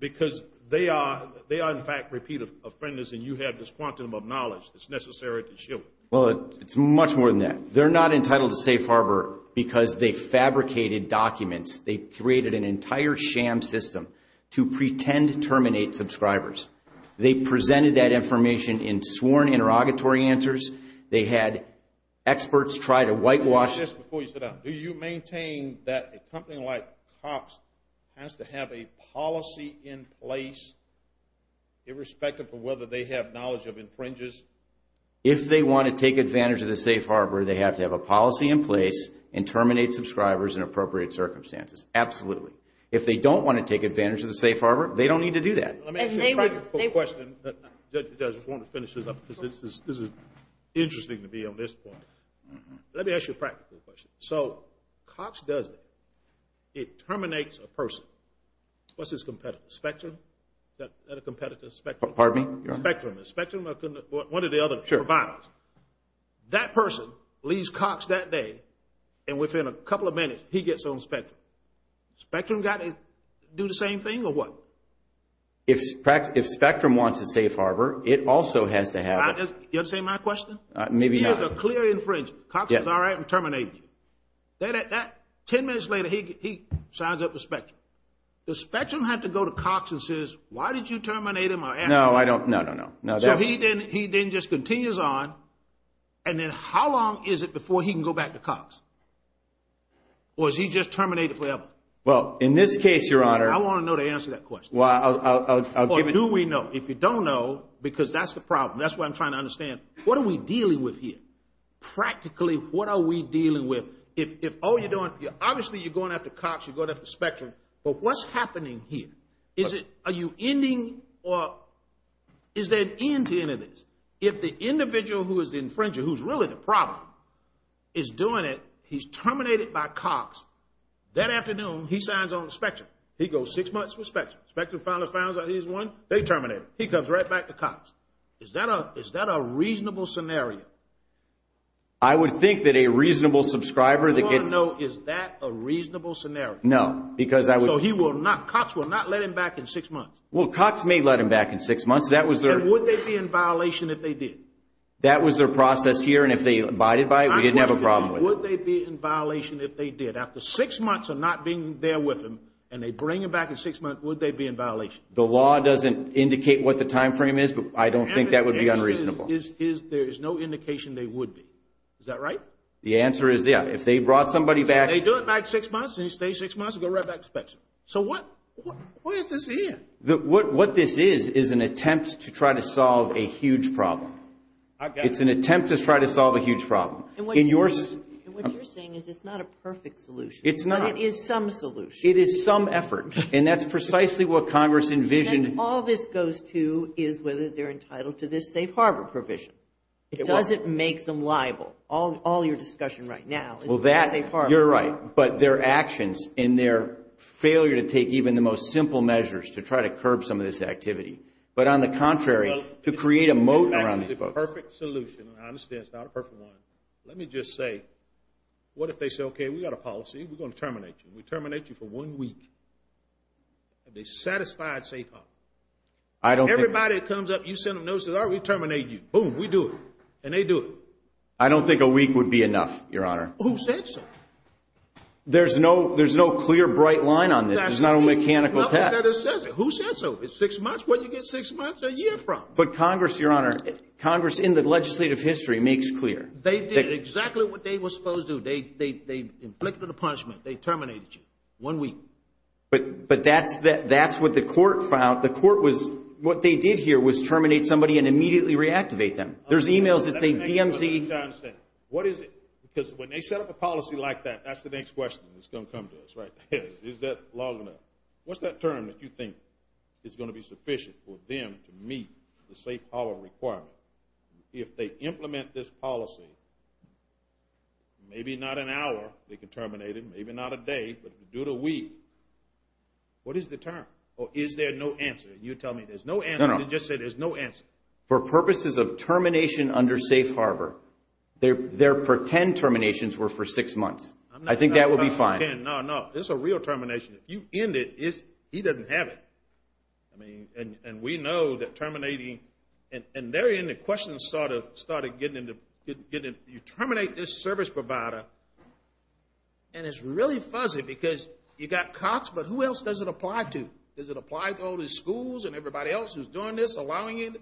because they are, in fact, repeat offenders, and you have this quantum of knowledge that's necessary to shield them. Well, it's much more than that. They're not entitled to safe harbor because they fabricated documents. They created an entire sham system to pretend to terminate subscribers. They presented that information in sworn interrogatory answers. They had experts try to whitewash— Let me ask this before you sit down. Do you maintain that a company like COPS has to have a policy in place, irrespective of whether they have knowledge of infringers? If they want to take advantage of the safe harbor, they have to have a policy in place and terminate subscribers in appropriate circumstances. Absolutely. If they don't want to take advantage of the safe harbor, they don't need to do that. Let me ask you a practical question. I just want to finish this up because this is interesting to be on this point. Let me ask you a practical question. So COPS does that. It terminates a person. What's his competitor? Spectrum? Is that a competitor? Spectrum. Pardon me, Your Honor? Spectrum. One or the other. Sure. That person leaves COPS that day, and within a couple of minutes, he gets on Spectrum. Spectrum got to do the same thing or what? If Spectrum wants a safe harbor, it also has to have— You understand my question? Maybe not. If there's a clear infringement, COPS is all right and terminates you. Ten minutes later, he signs up for Spectrum. Does Spectrum have to go to COPS and say, why did you terminate him? No, I don't. No, no, no. So he then just continues on, and then how long is it before he can go back to COPS? Or is he just terminated forever? Well, in this case, Your Honor— I want to know the answer to that question. Well, I'll give it— Or do we know? If you don't know, because that's the problem. That's what I'm trying to understand. What are we dealing with here? Practically, what are we dealing with? Obviously, you're going after COPS. You're going after Spectrum. But what's happening here? Are you ending or is there an end to any of this? If the individual who is the infringer, who's really the problem, is doing it, he's terminated by COPS, that afternoon he signs on Spectrum. He goes six months with Spectrum. Spectrum finally finds out he's won, they terminate him. He comes right back to COPS. Is that a reasonable scenario? I would think that a reasonable subscriber that gets— I want to know, is that a reasonable scenario? No, because I would— So he will not—COPS will not let him back in six months? Well, COPS may let him back in six months. That was their— Then would they be in violation if they did? That was their process here, and if they abided by it, we didn't have a problem with it. Would they be in violation if they did? After six months of not being there with him, and they bring him back in six months, would they be in violation? The law doesn't indicate what the timeframe is, but I don't think that would be unreasonable. The answer is there is no indication they would be. Is that right? The answer is, yeah. If they brought somebody back— So what is this here? What this is is an attempt to try to solve a huge problem. Okay. It's an attempt to try to solve a huge problem. And what you're saying is it's not a perfect solution. It's not. But it is some solution. It is some effort, and that's precisely what Congress envisioned. And all this goes to is whether they're entitled to this safe harbor provision. It doesn't make them liable. All your discussion right now is about safe harbor. You're right. But their actions and their failure to take even the most simple measures to try to curb some of this activity. But on the contrary, to create a moat around these folks. It's not a perfect solution. I understand it's not a perfect one. Let me just say, what if they say, okay, we've got a policy, we're going to terminate you. We terminate you for one week. Have they satisfied safe harbor? Everybody that comes up, you send them notices, all right, we terminate you. Boom, we do it. And they do it. I don't think a week would be enough, Your Honor. Who said so? There's no clear, bright line on this. There's not a mechanical test. Who says so? It's six months. Where do you get six months a year from? But Congress, Your Honor, Congress in the legislative history makes clear. They did exactly what they were supposed to. They inflicted a punishment. They terminated you. One week. But that's what the court found. The court was, what they did here was terminate somebody and immediately reactivate them. There's emails that say DMZ. What is it? Because when they set up a policy like that, that's the next question that's going to come to us, right? Is that long enough? What's that term that you think is going to be sufficient for them to meet the safe harbor requirement? If they implement this policy, maybe not an hour they can terminate him, maybe not a day, but do it a week. What is the term? Or is there no answer? You're telling me there's no answer. No, no. You just said there's no answer. For purposes of termination under safe harbor, their pretend terminations were for six months. I think that would be fine. No, no. This is a real termination. If you end it, he doesn't have it. And we know that terminating, and therein the question started getting into, you terminate this service provider, and it's really fuzzy because you got Cox, but who else does it apply to? Does it apply to all the schools and everybody else who's doing this, allowing it?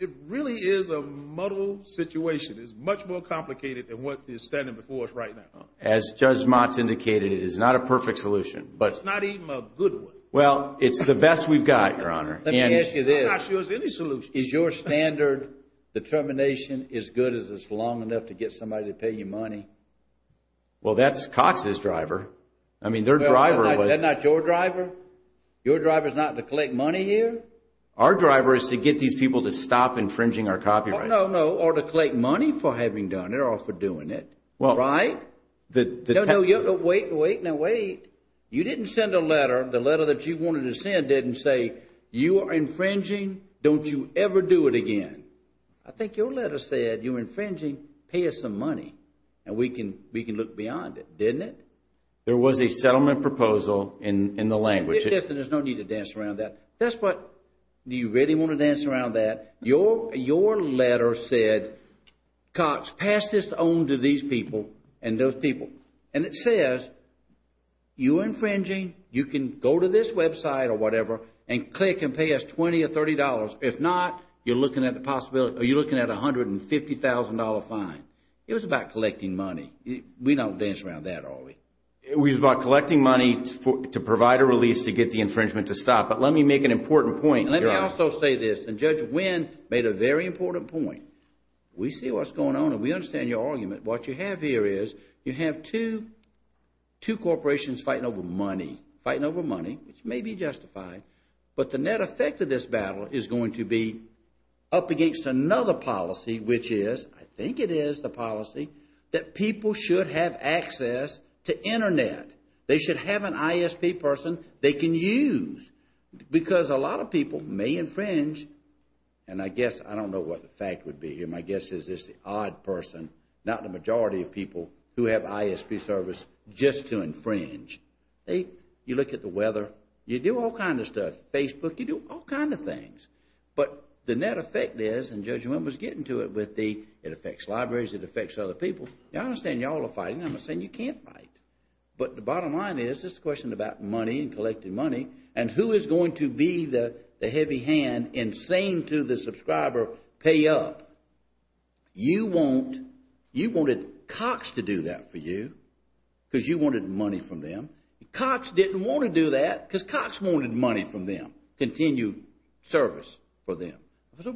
It really is a muddled situation. It's much more complicated than what is standing before us right now. As Judge Motz indicated, it is not a perfect solution. It's not even a good one. Well, it's the best we've got, Your Honor. Let me ask you this. I'm not sure there's any solution. Is your standard determination as good as it's long enough to get somebody to pay you money? Well, that's Cox's driver. I mean, their driver was. That's not your driver? Your driver is not to collect money here? Our driver is to get these people to stop infringing our copyright. No, no. Or to collect money for having done it or for doing it. Right? No, no. Wait, wait. Now, wait. You didn't send a letter. The letter that you wanted to send didn't say, you are infringing. Don't you ever do it again. I think your letter said, you're infringing. Pay us some money, and we can look beyond it. Didn't it? There was a settlement proposal in the language. There's no need to dance around that. Do you really want to dance around that? Your letter said, Cox, pass this on to these people and those people. And it says, you're infringing. You can go to this website or whatever and click and pay us $20 or $30. If not, you're looking at a $150,000 fine. It was about collecting money. We don't dance around that, do we? It was about collecting money to provide a release to get the infringement to stop. But let me make an important point here. Let me also say this. And Judge Wynn made a very important point. We see what's going on and we understand your argument. What you have here is you have two corporations fighting over money, fighting over money, which may be justified, but the net effect of this battle is going to be up against another policy, which is, I think it is the policy, that people should have access to Internet. They should have an ISP person they can use because a lot of people may infringe. And I guess, I don't know what the fact would be here. My guess is it's the odd person, not the majority of people who have ISP service, just to infringe. You look at the weather. You do all kinds of stuff. Facebook, you do all kinds of things. But the net effect is, and Judge Wynn was getting to it, it affects libraries, it affects other people. I understand you all are fighting. I'm not saying you can't fight. But the bottom line is this question about money and collecting money and who is going to be the heavy hand in saying to the subscriber, pay up. You wanted Cox to do that for you because you wanted money from them. Cox didn't want to do that because Cox wanted money from them, continued service for them.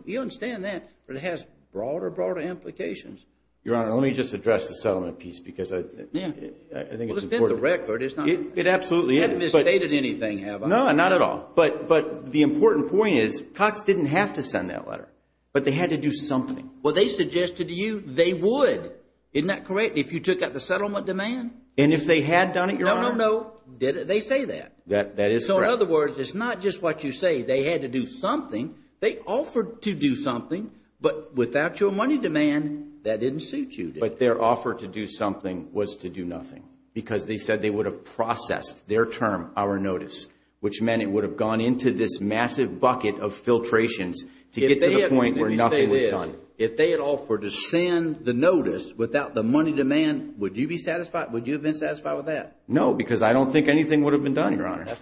You understand that, but it has broader, broader implications. Your Honor, let me just address the settlement piece because I think it's important. Well, it's in the record. It absolutely is. You haven't misstated anything, have I? No, not at all. But the important point is Cox didn't have to send that letter, but they had to do something. Well, they suggested to you they would, isn't that correct, if you took out the settlement demand? And if they had done it, Your Honor? No, no, no. They say that. That is correct. So in other words, it's not just what you say. They had to do something. They offered to do something, but without your money demand, that didn't suit you. But their offer to do something was to do nothing because they said they would have processed their term, our notice, which meant it would have gone into this massive bucket of filtrations to get to the point where nothing was done. If they had offered to send the notice without the money demand, would you be satisfied? Would you have been satisfied with that? No, because I don't think anything would have been done, Your Honor.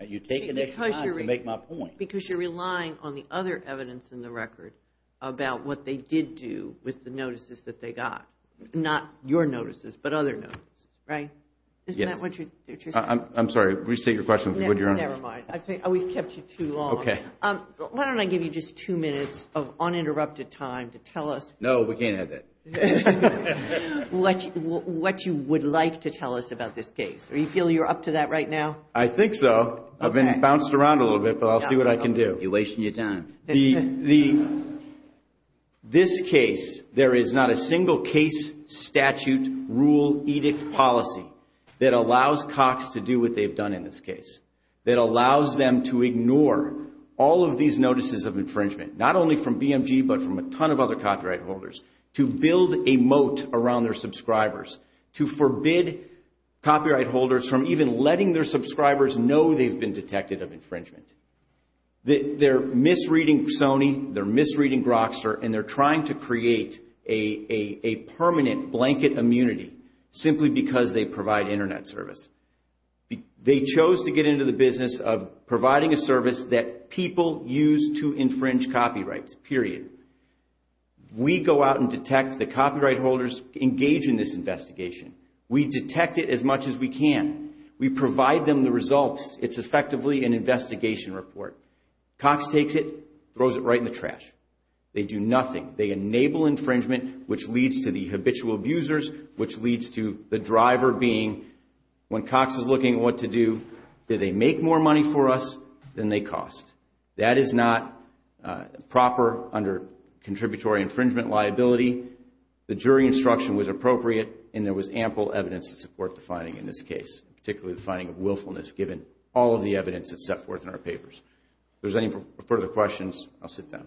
You take an extra time to make my point. Because you're relying on the other evidence in the record about what they did do with the notices that they got, not your notices but other notices, right? Yes. Isn't that what you're saying? I'm sorry. Please take your question if you would, Your Honor. Never mind. We've kept you too long. Okay. Why don't I give you just two minutes of uninterrupted time to tell us. No, we can't have that. What you would like to tell us about this case. Do you feel you're up to that right now? I think so. I've been bounced around a little bit, but I'll see what I can do. You're wasting your time. This case, there is not a single case statute rule edict policy that allows Cox to do what they've done in this case, that allows them to ignore all of these notices of infringement, not only from BMG but from a ton of other copyright holders, to build a moat around their subscribers, to forbid copyright holders from even letting their subscribers know they've been detected of infringement. They're misreading Sony, they're misreading Grokster, and they're trying to create a permanent blanket immunity simply because they provide Internet service. They chose to get into the business of providing a service that people use to infringe copyrights, period. We go out and detect the copyright holders engaged in this investigation. We detect it as much as we can. We provide them the results. It's effectively an investigation report. Cox takes it, throws it right in the trash. They do nothing. They enable infringement, which leads to the habitual abusers, which leads to the driver being, when Cox is looking at what to do, do they make more money for us than they cost? That is not proper under contributory infringement liability. The jury instruction was appropriate, and there was ample evidence to support the finding in this case, particularly the finding of willfulness given all of the evidence that's set forth in our papers. If there's any further questions, I'll sit down.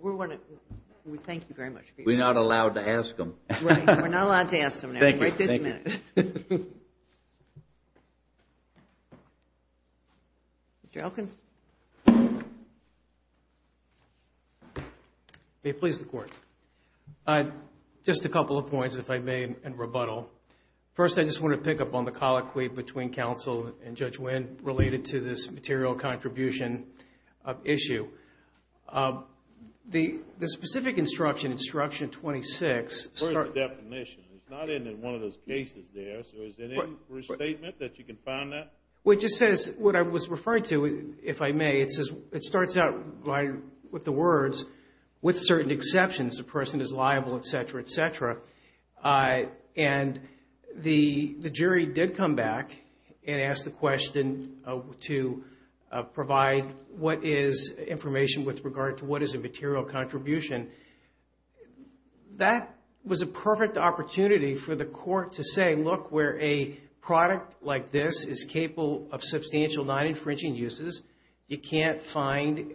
We want to thank you very much. We're not allowed to ask them. Right. We're not allowed to ask them now. Thank you. Right this minute. Thank you. Mr. Elkin. May it please the Court. Just a couple of points, if I may, in rebuttal. First, I just want to pick up on the colloquy between Counsel and Judge Wynn related to this material contribution issue. The specific instruction, Instruction 26. Where is the definition? It's not in one of those cases there, so is there any restatement that you can find that? Well, it just says what I was referring to, if I may. It starts out with the words, with certain exceptions, the person is liable, et cetera, et cetera. And the jury did come back and ask the question to provide what is information with regard to what is a material contribution. That was a perfect opportunity for the Court to say, look, where a product like this is capable of substantial non-infringing uses, you can't find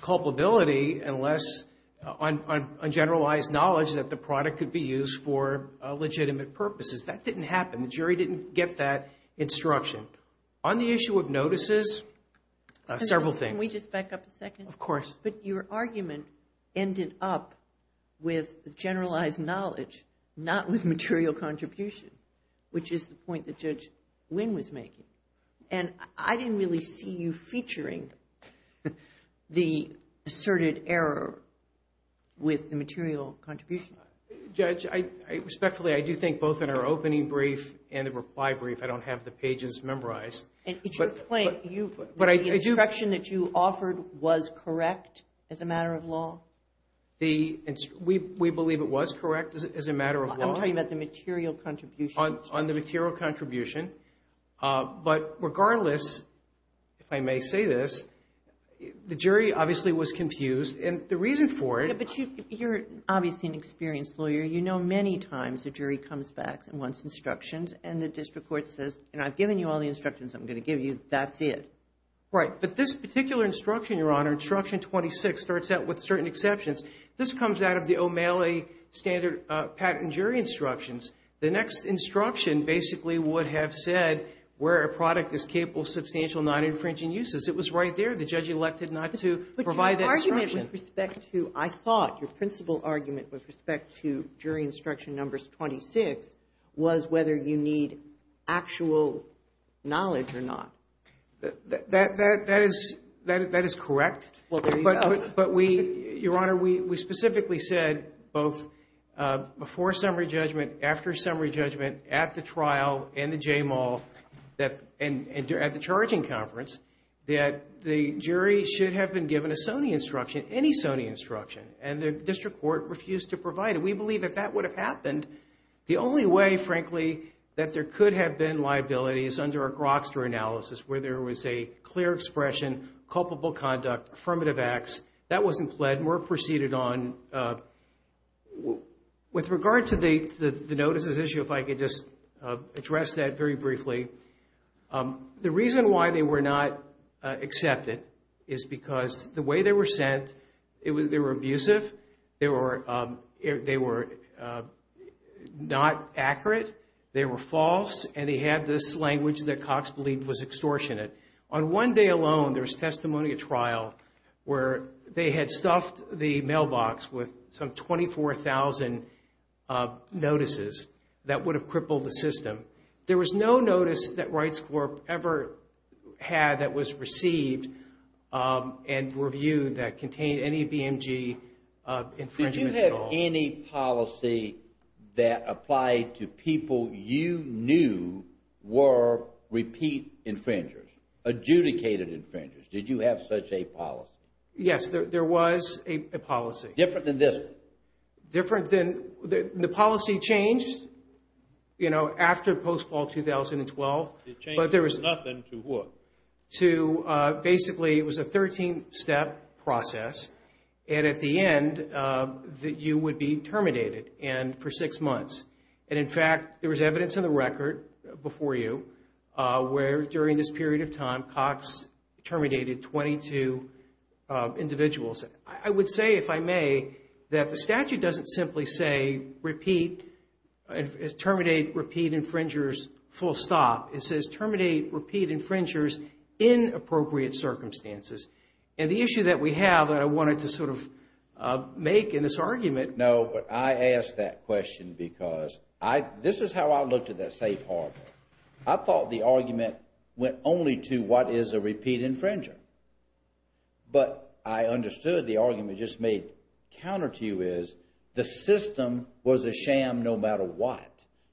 culpability unless on generalized knowledge that the product could be used for legitimate purposes. That didn't happen. The jury didn't get that instruction. On the issue of notices, several things. Can we just back up a second? Of course. But your argument ended up with generalized knowledge, not with material contribution, which is the point that Judge Wynn was making. And I didn't really see you featuring the asserted error with the material contribution. Judge, respectfully, I do think both in our opening brief and the reply brief, I don't have the pages memorized. It's your point. The instruction that you offered was correct as a matter of law? We believe it was correct as a matter of law. I'm talking about the material contribution. On the material contribution. But regardless, if I may say this, the jury obviously was confused. And the reason for it— But you're obviously an experienced lawyer. You know many times a jury comes back and wants instructions. And the district court says, and I've given you all the instructions I'm going to give you. That's it. But this particular instruction, Your Honor, instruction 26, starts out with certain exceptions. This comes out of the O'Malley standard patent jury instructions. The next instruction basically would have said where a product is capable of substantial non-infringing uses. It was right there. The judge elected not to provide that instruction. Your argument with respect to—I thought your principal argument with respect to jury instruction numbers 26 was whether you need actual knowledge or not. That is correct. Well, there you go. But we—Your Honor, we specifically said both before summary judgment, after summary judgment, at the trial, and the J-Mall, and at the charging conference, that the jury should have been given a Sony instruction, any Sony instruction. And the district court refused to provide it. We believe if that would have happened, the only way, frankly, that there could have been liability is under a Grokster analysis where there was a clear expression, culpable conduct, affirmative acts. That wasn't pled. That were proceeded on. With regard to the notices issue, if I could just address that very briefly. The reason why they were not accepted is because the way they were sent, they were abusive. They were not accurate. They were false. And they had this language that Cox believed was extortionate. On one day alone, there was testimony at trial where they had stuffed the mailbox with some 24,000 notices that would have crippled the system. There was no notice that Wright's Corp ever had that was received and reviewed that contained any BMG infringements at all. Was there any policy that applied to people you knew were repeat infringers, adjudicated infringers? Did you have such a policy? Yes, there was a policy. Different than this one? Different than, the policy changed, you know, after post-fall 2012. It changed from nothing to what? Basically, it was a 13-step process. And at the end, you would be terminated for six months. And in fact, there was evidence in the record before you where during this period of time, Cox terminated 22 individuals. I would say, if I may, that the statute doesn't simply say, repeat, terminate, repeat infringers, full stop. It says terminate, repeat infringers in appropriate circumstances. And the issue that we have that I wanted to sort of make in this argument. No, but I ask that question because this is how I looked at that safe harbor. I thought the argument went only to what is a repeat infringer. But I understood the argument just made counter to you is the system was a sham no matter what.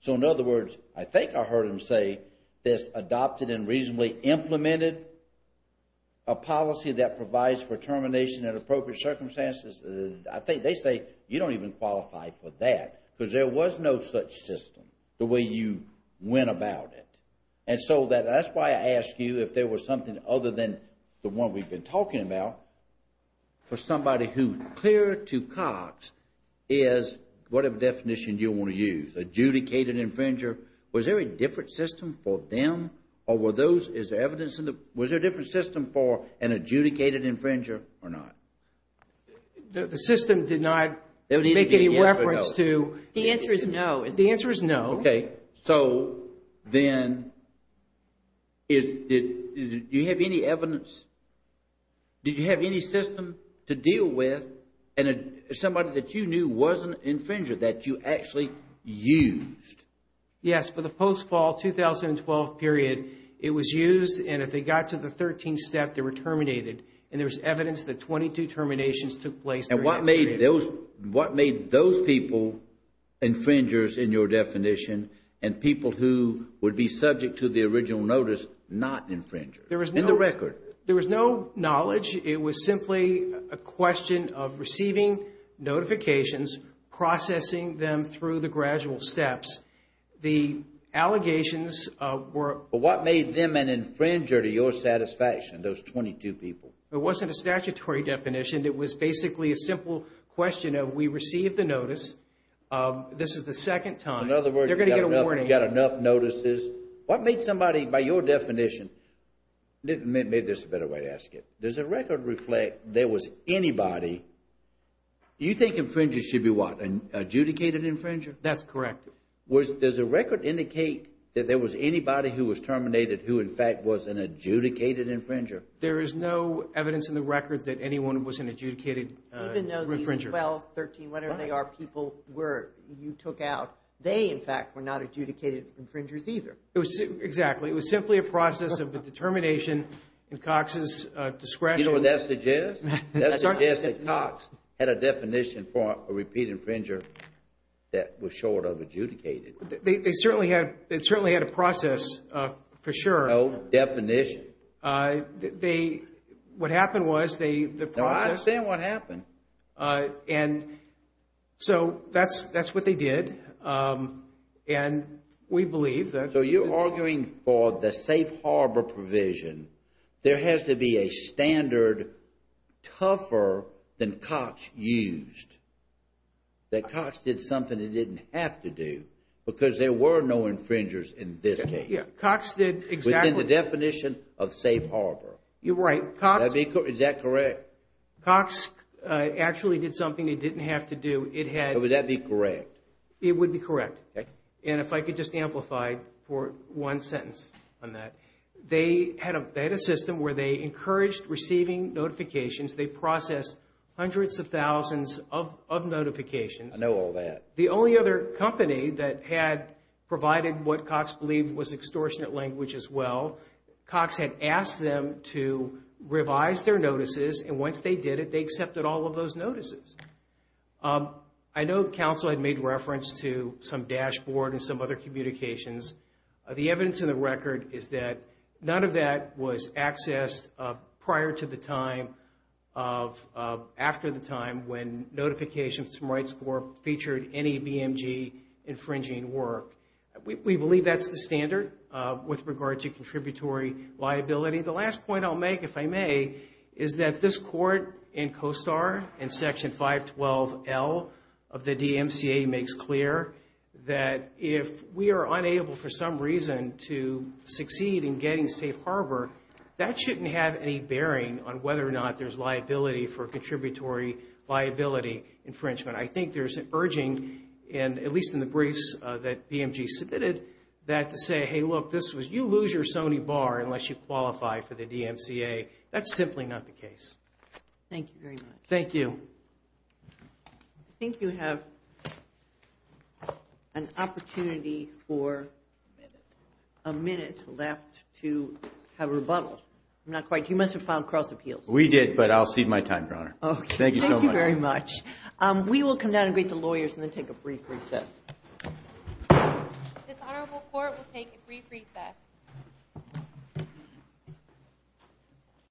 So, in other words, I think I heard him say this adopted and reasonably implemented a policy that provides for termination in appropriate circumstances. I think they say you don't even qualify for that because there was no such system the way you went about it. And so, that's why I ask you if there was something other than the one we've been talking about. For somebody who's clear to Cox is whatever definition you want to use, adjudicated infringer. Was there a different system for them or were those, is there evidence in the, was there a different system for an adjudicated infringer or not? The system did not make any reference to. The answer is no. The answer is no. Okay. So, then, do you have any evidence? Did you have any system to deal with and somebody that you knew was an infringer that you actually used? Yes. For the post-fall 2012 period, it was used and if they got to the 13th step, they were terminated. And there's evidence that 22 terminations took place during that period. What made those people infringers in your definition and people who would be subject to the original notice not infringers? In the record. There was no knowledge. It was simply a question of receiving notifications, processing them through the gradual steps. The allegations were. What made them an infringer to your satisfaction, those 22 people? It wasn't a statutory definition. It was basically a simple question of we received the notice. This is the second time. In other words. They're going to get a warning. You got enough notices. What made somebody, by your definition, made this a better way to ask it. Does the record reflect there was anybody, you think infringers should be what, an adjudicated infringer? That's correct. Does the record indicate that there was anybody who was terminated who, in fact, was an adjudicated infringer? There is no evidence in the record that anyone was an adjudicated infringer. Even though these 12, 13, whatever they are, people you took out, they, in fact, were not adjudicated infringers either. Exactly. It was simply a process of a determination in Cox's discretion. You know what that suggests? That suggests that Cox had a definition for a repeat infringer that was short of adjudicated. They certainly had a process, for sure. No definition. They, what happened was they, the process. No, I understand what happened. And so that's what they did. And we believe that. So you're arguing for the safe harbor provision. There has to be a standard tougher than Cox used. That Cox did something he didn't have to do because there were no infringers in this case. Cox did exactly. In the definition of safe harbor. You're right. Is that correct? Cox actually did something he didn't have to do. Would that be correct? It would be correct. And if I could just amplify for one sentence on that. They had a system where they encouraged receiving notifications. They processed hundreds of thousands of notifications. I know all that. The only other company that had provided what Cox believed was extortionate language as well, Cox had asked them to revise their notices. And once they did it, they accepted all of those notices. I know counsel had made reference to some dashboard and some other communications. The evidence in the record is that none of that was accessed prior to the time of, after the time when notifications from Rights Corps featured any BMG infringing work. We believe that's the standard with regard to contributory liability. The last point I'll make, if I may, is that this court in COSTAR, in Section 512L of the DMCA, makes clear that if we are unable for some reason to succeed in getting safe harbor, that shouldn't have any bearing on whether or not there's liability for contributory liability infringement. I think there's an urging, at least in the briefs that BMG submitted, that to say, hey, look, you lose your Sony bar unless you qualify for the DMCA. That's simply not the case. Thank you very much. Thank you. I think you have an opportunity for a minute left to have a rebuttal. Not quite. You must have filed cross appeals. We did, but I'll cede my time, Your Honor. Thank you so much. Thank you very much. We will come down and greet the lawyers and then take a brief recess. This honorable court will take a brief recess.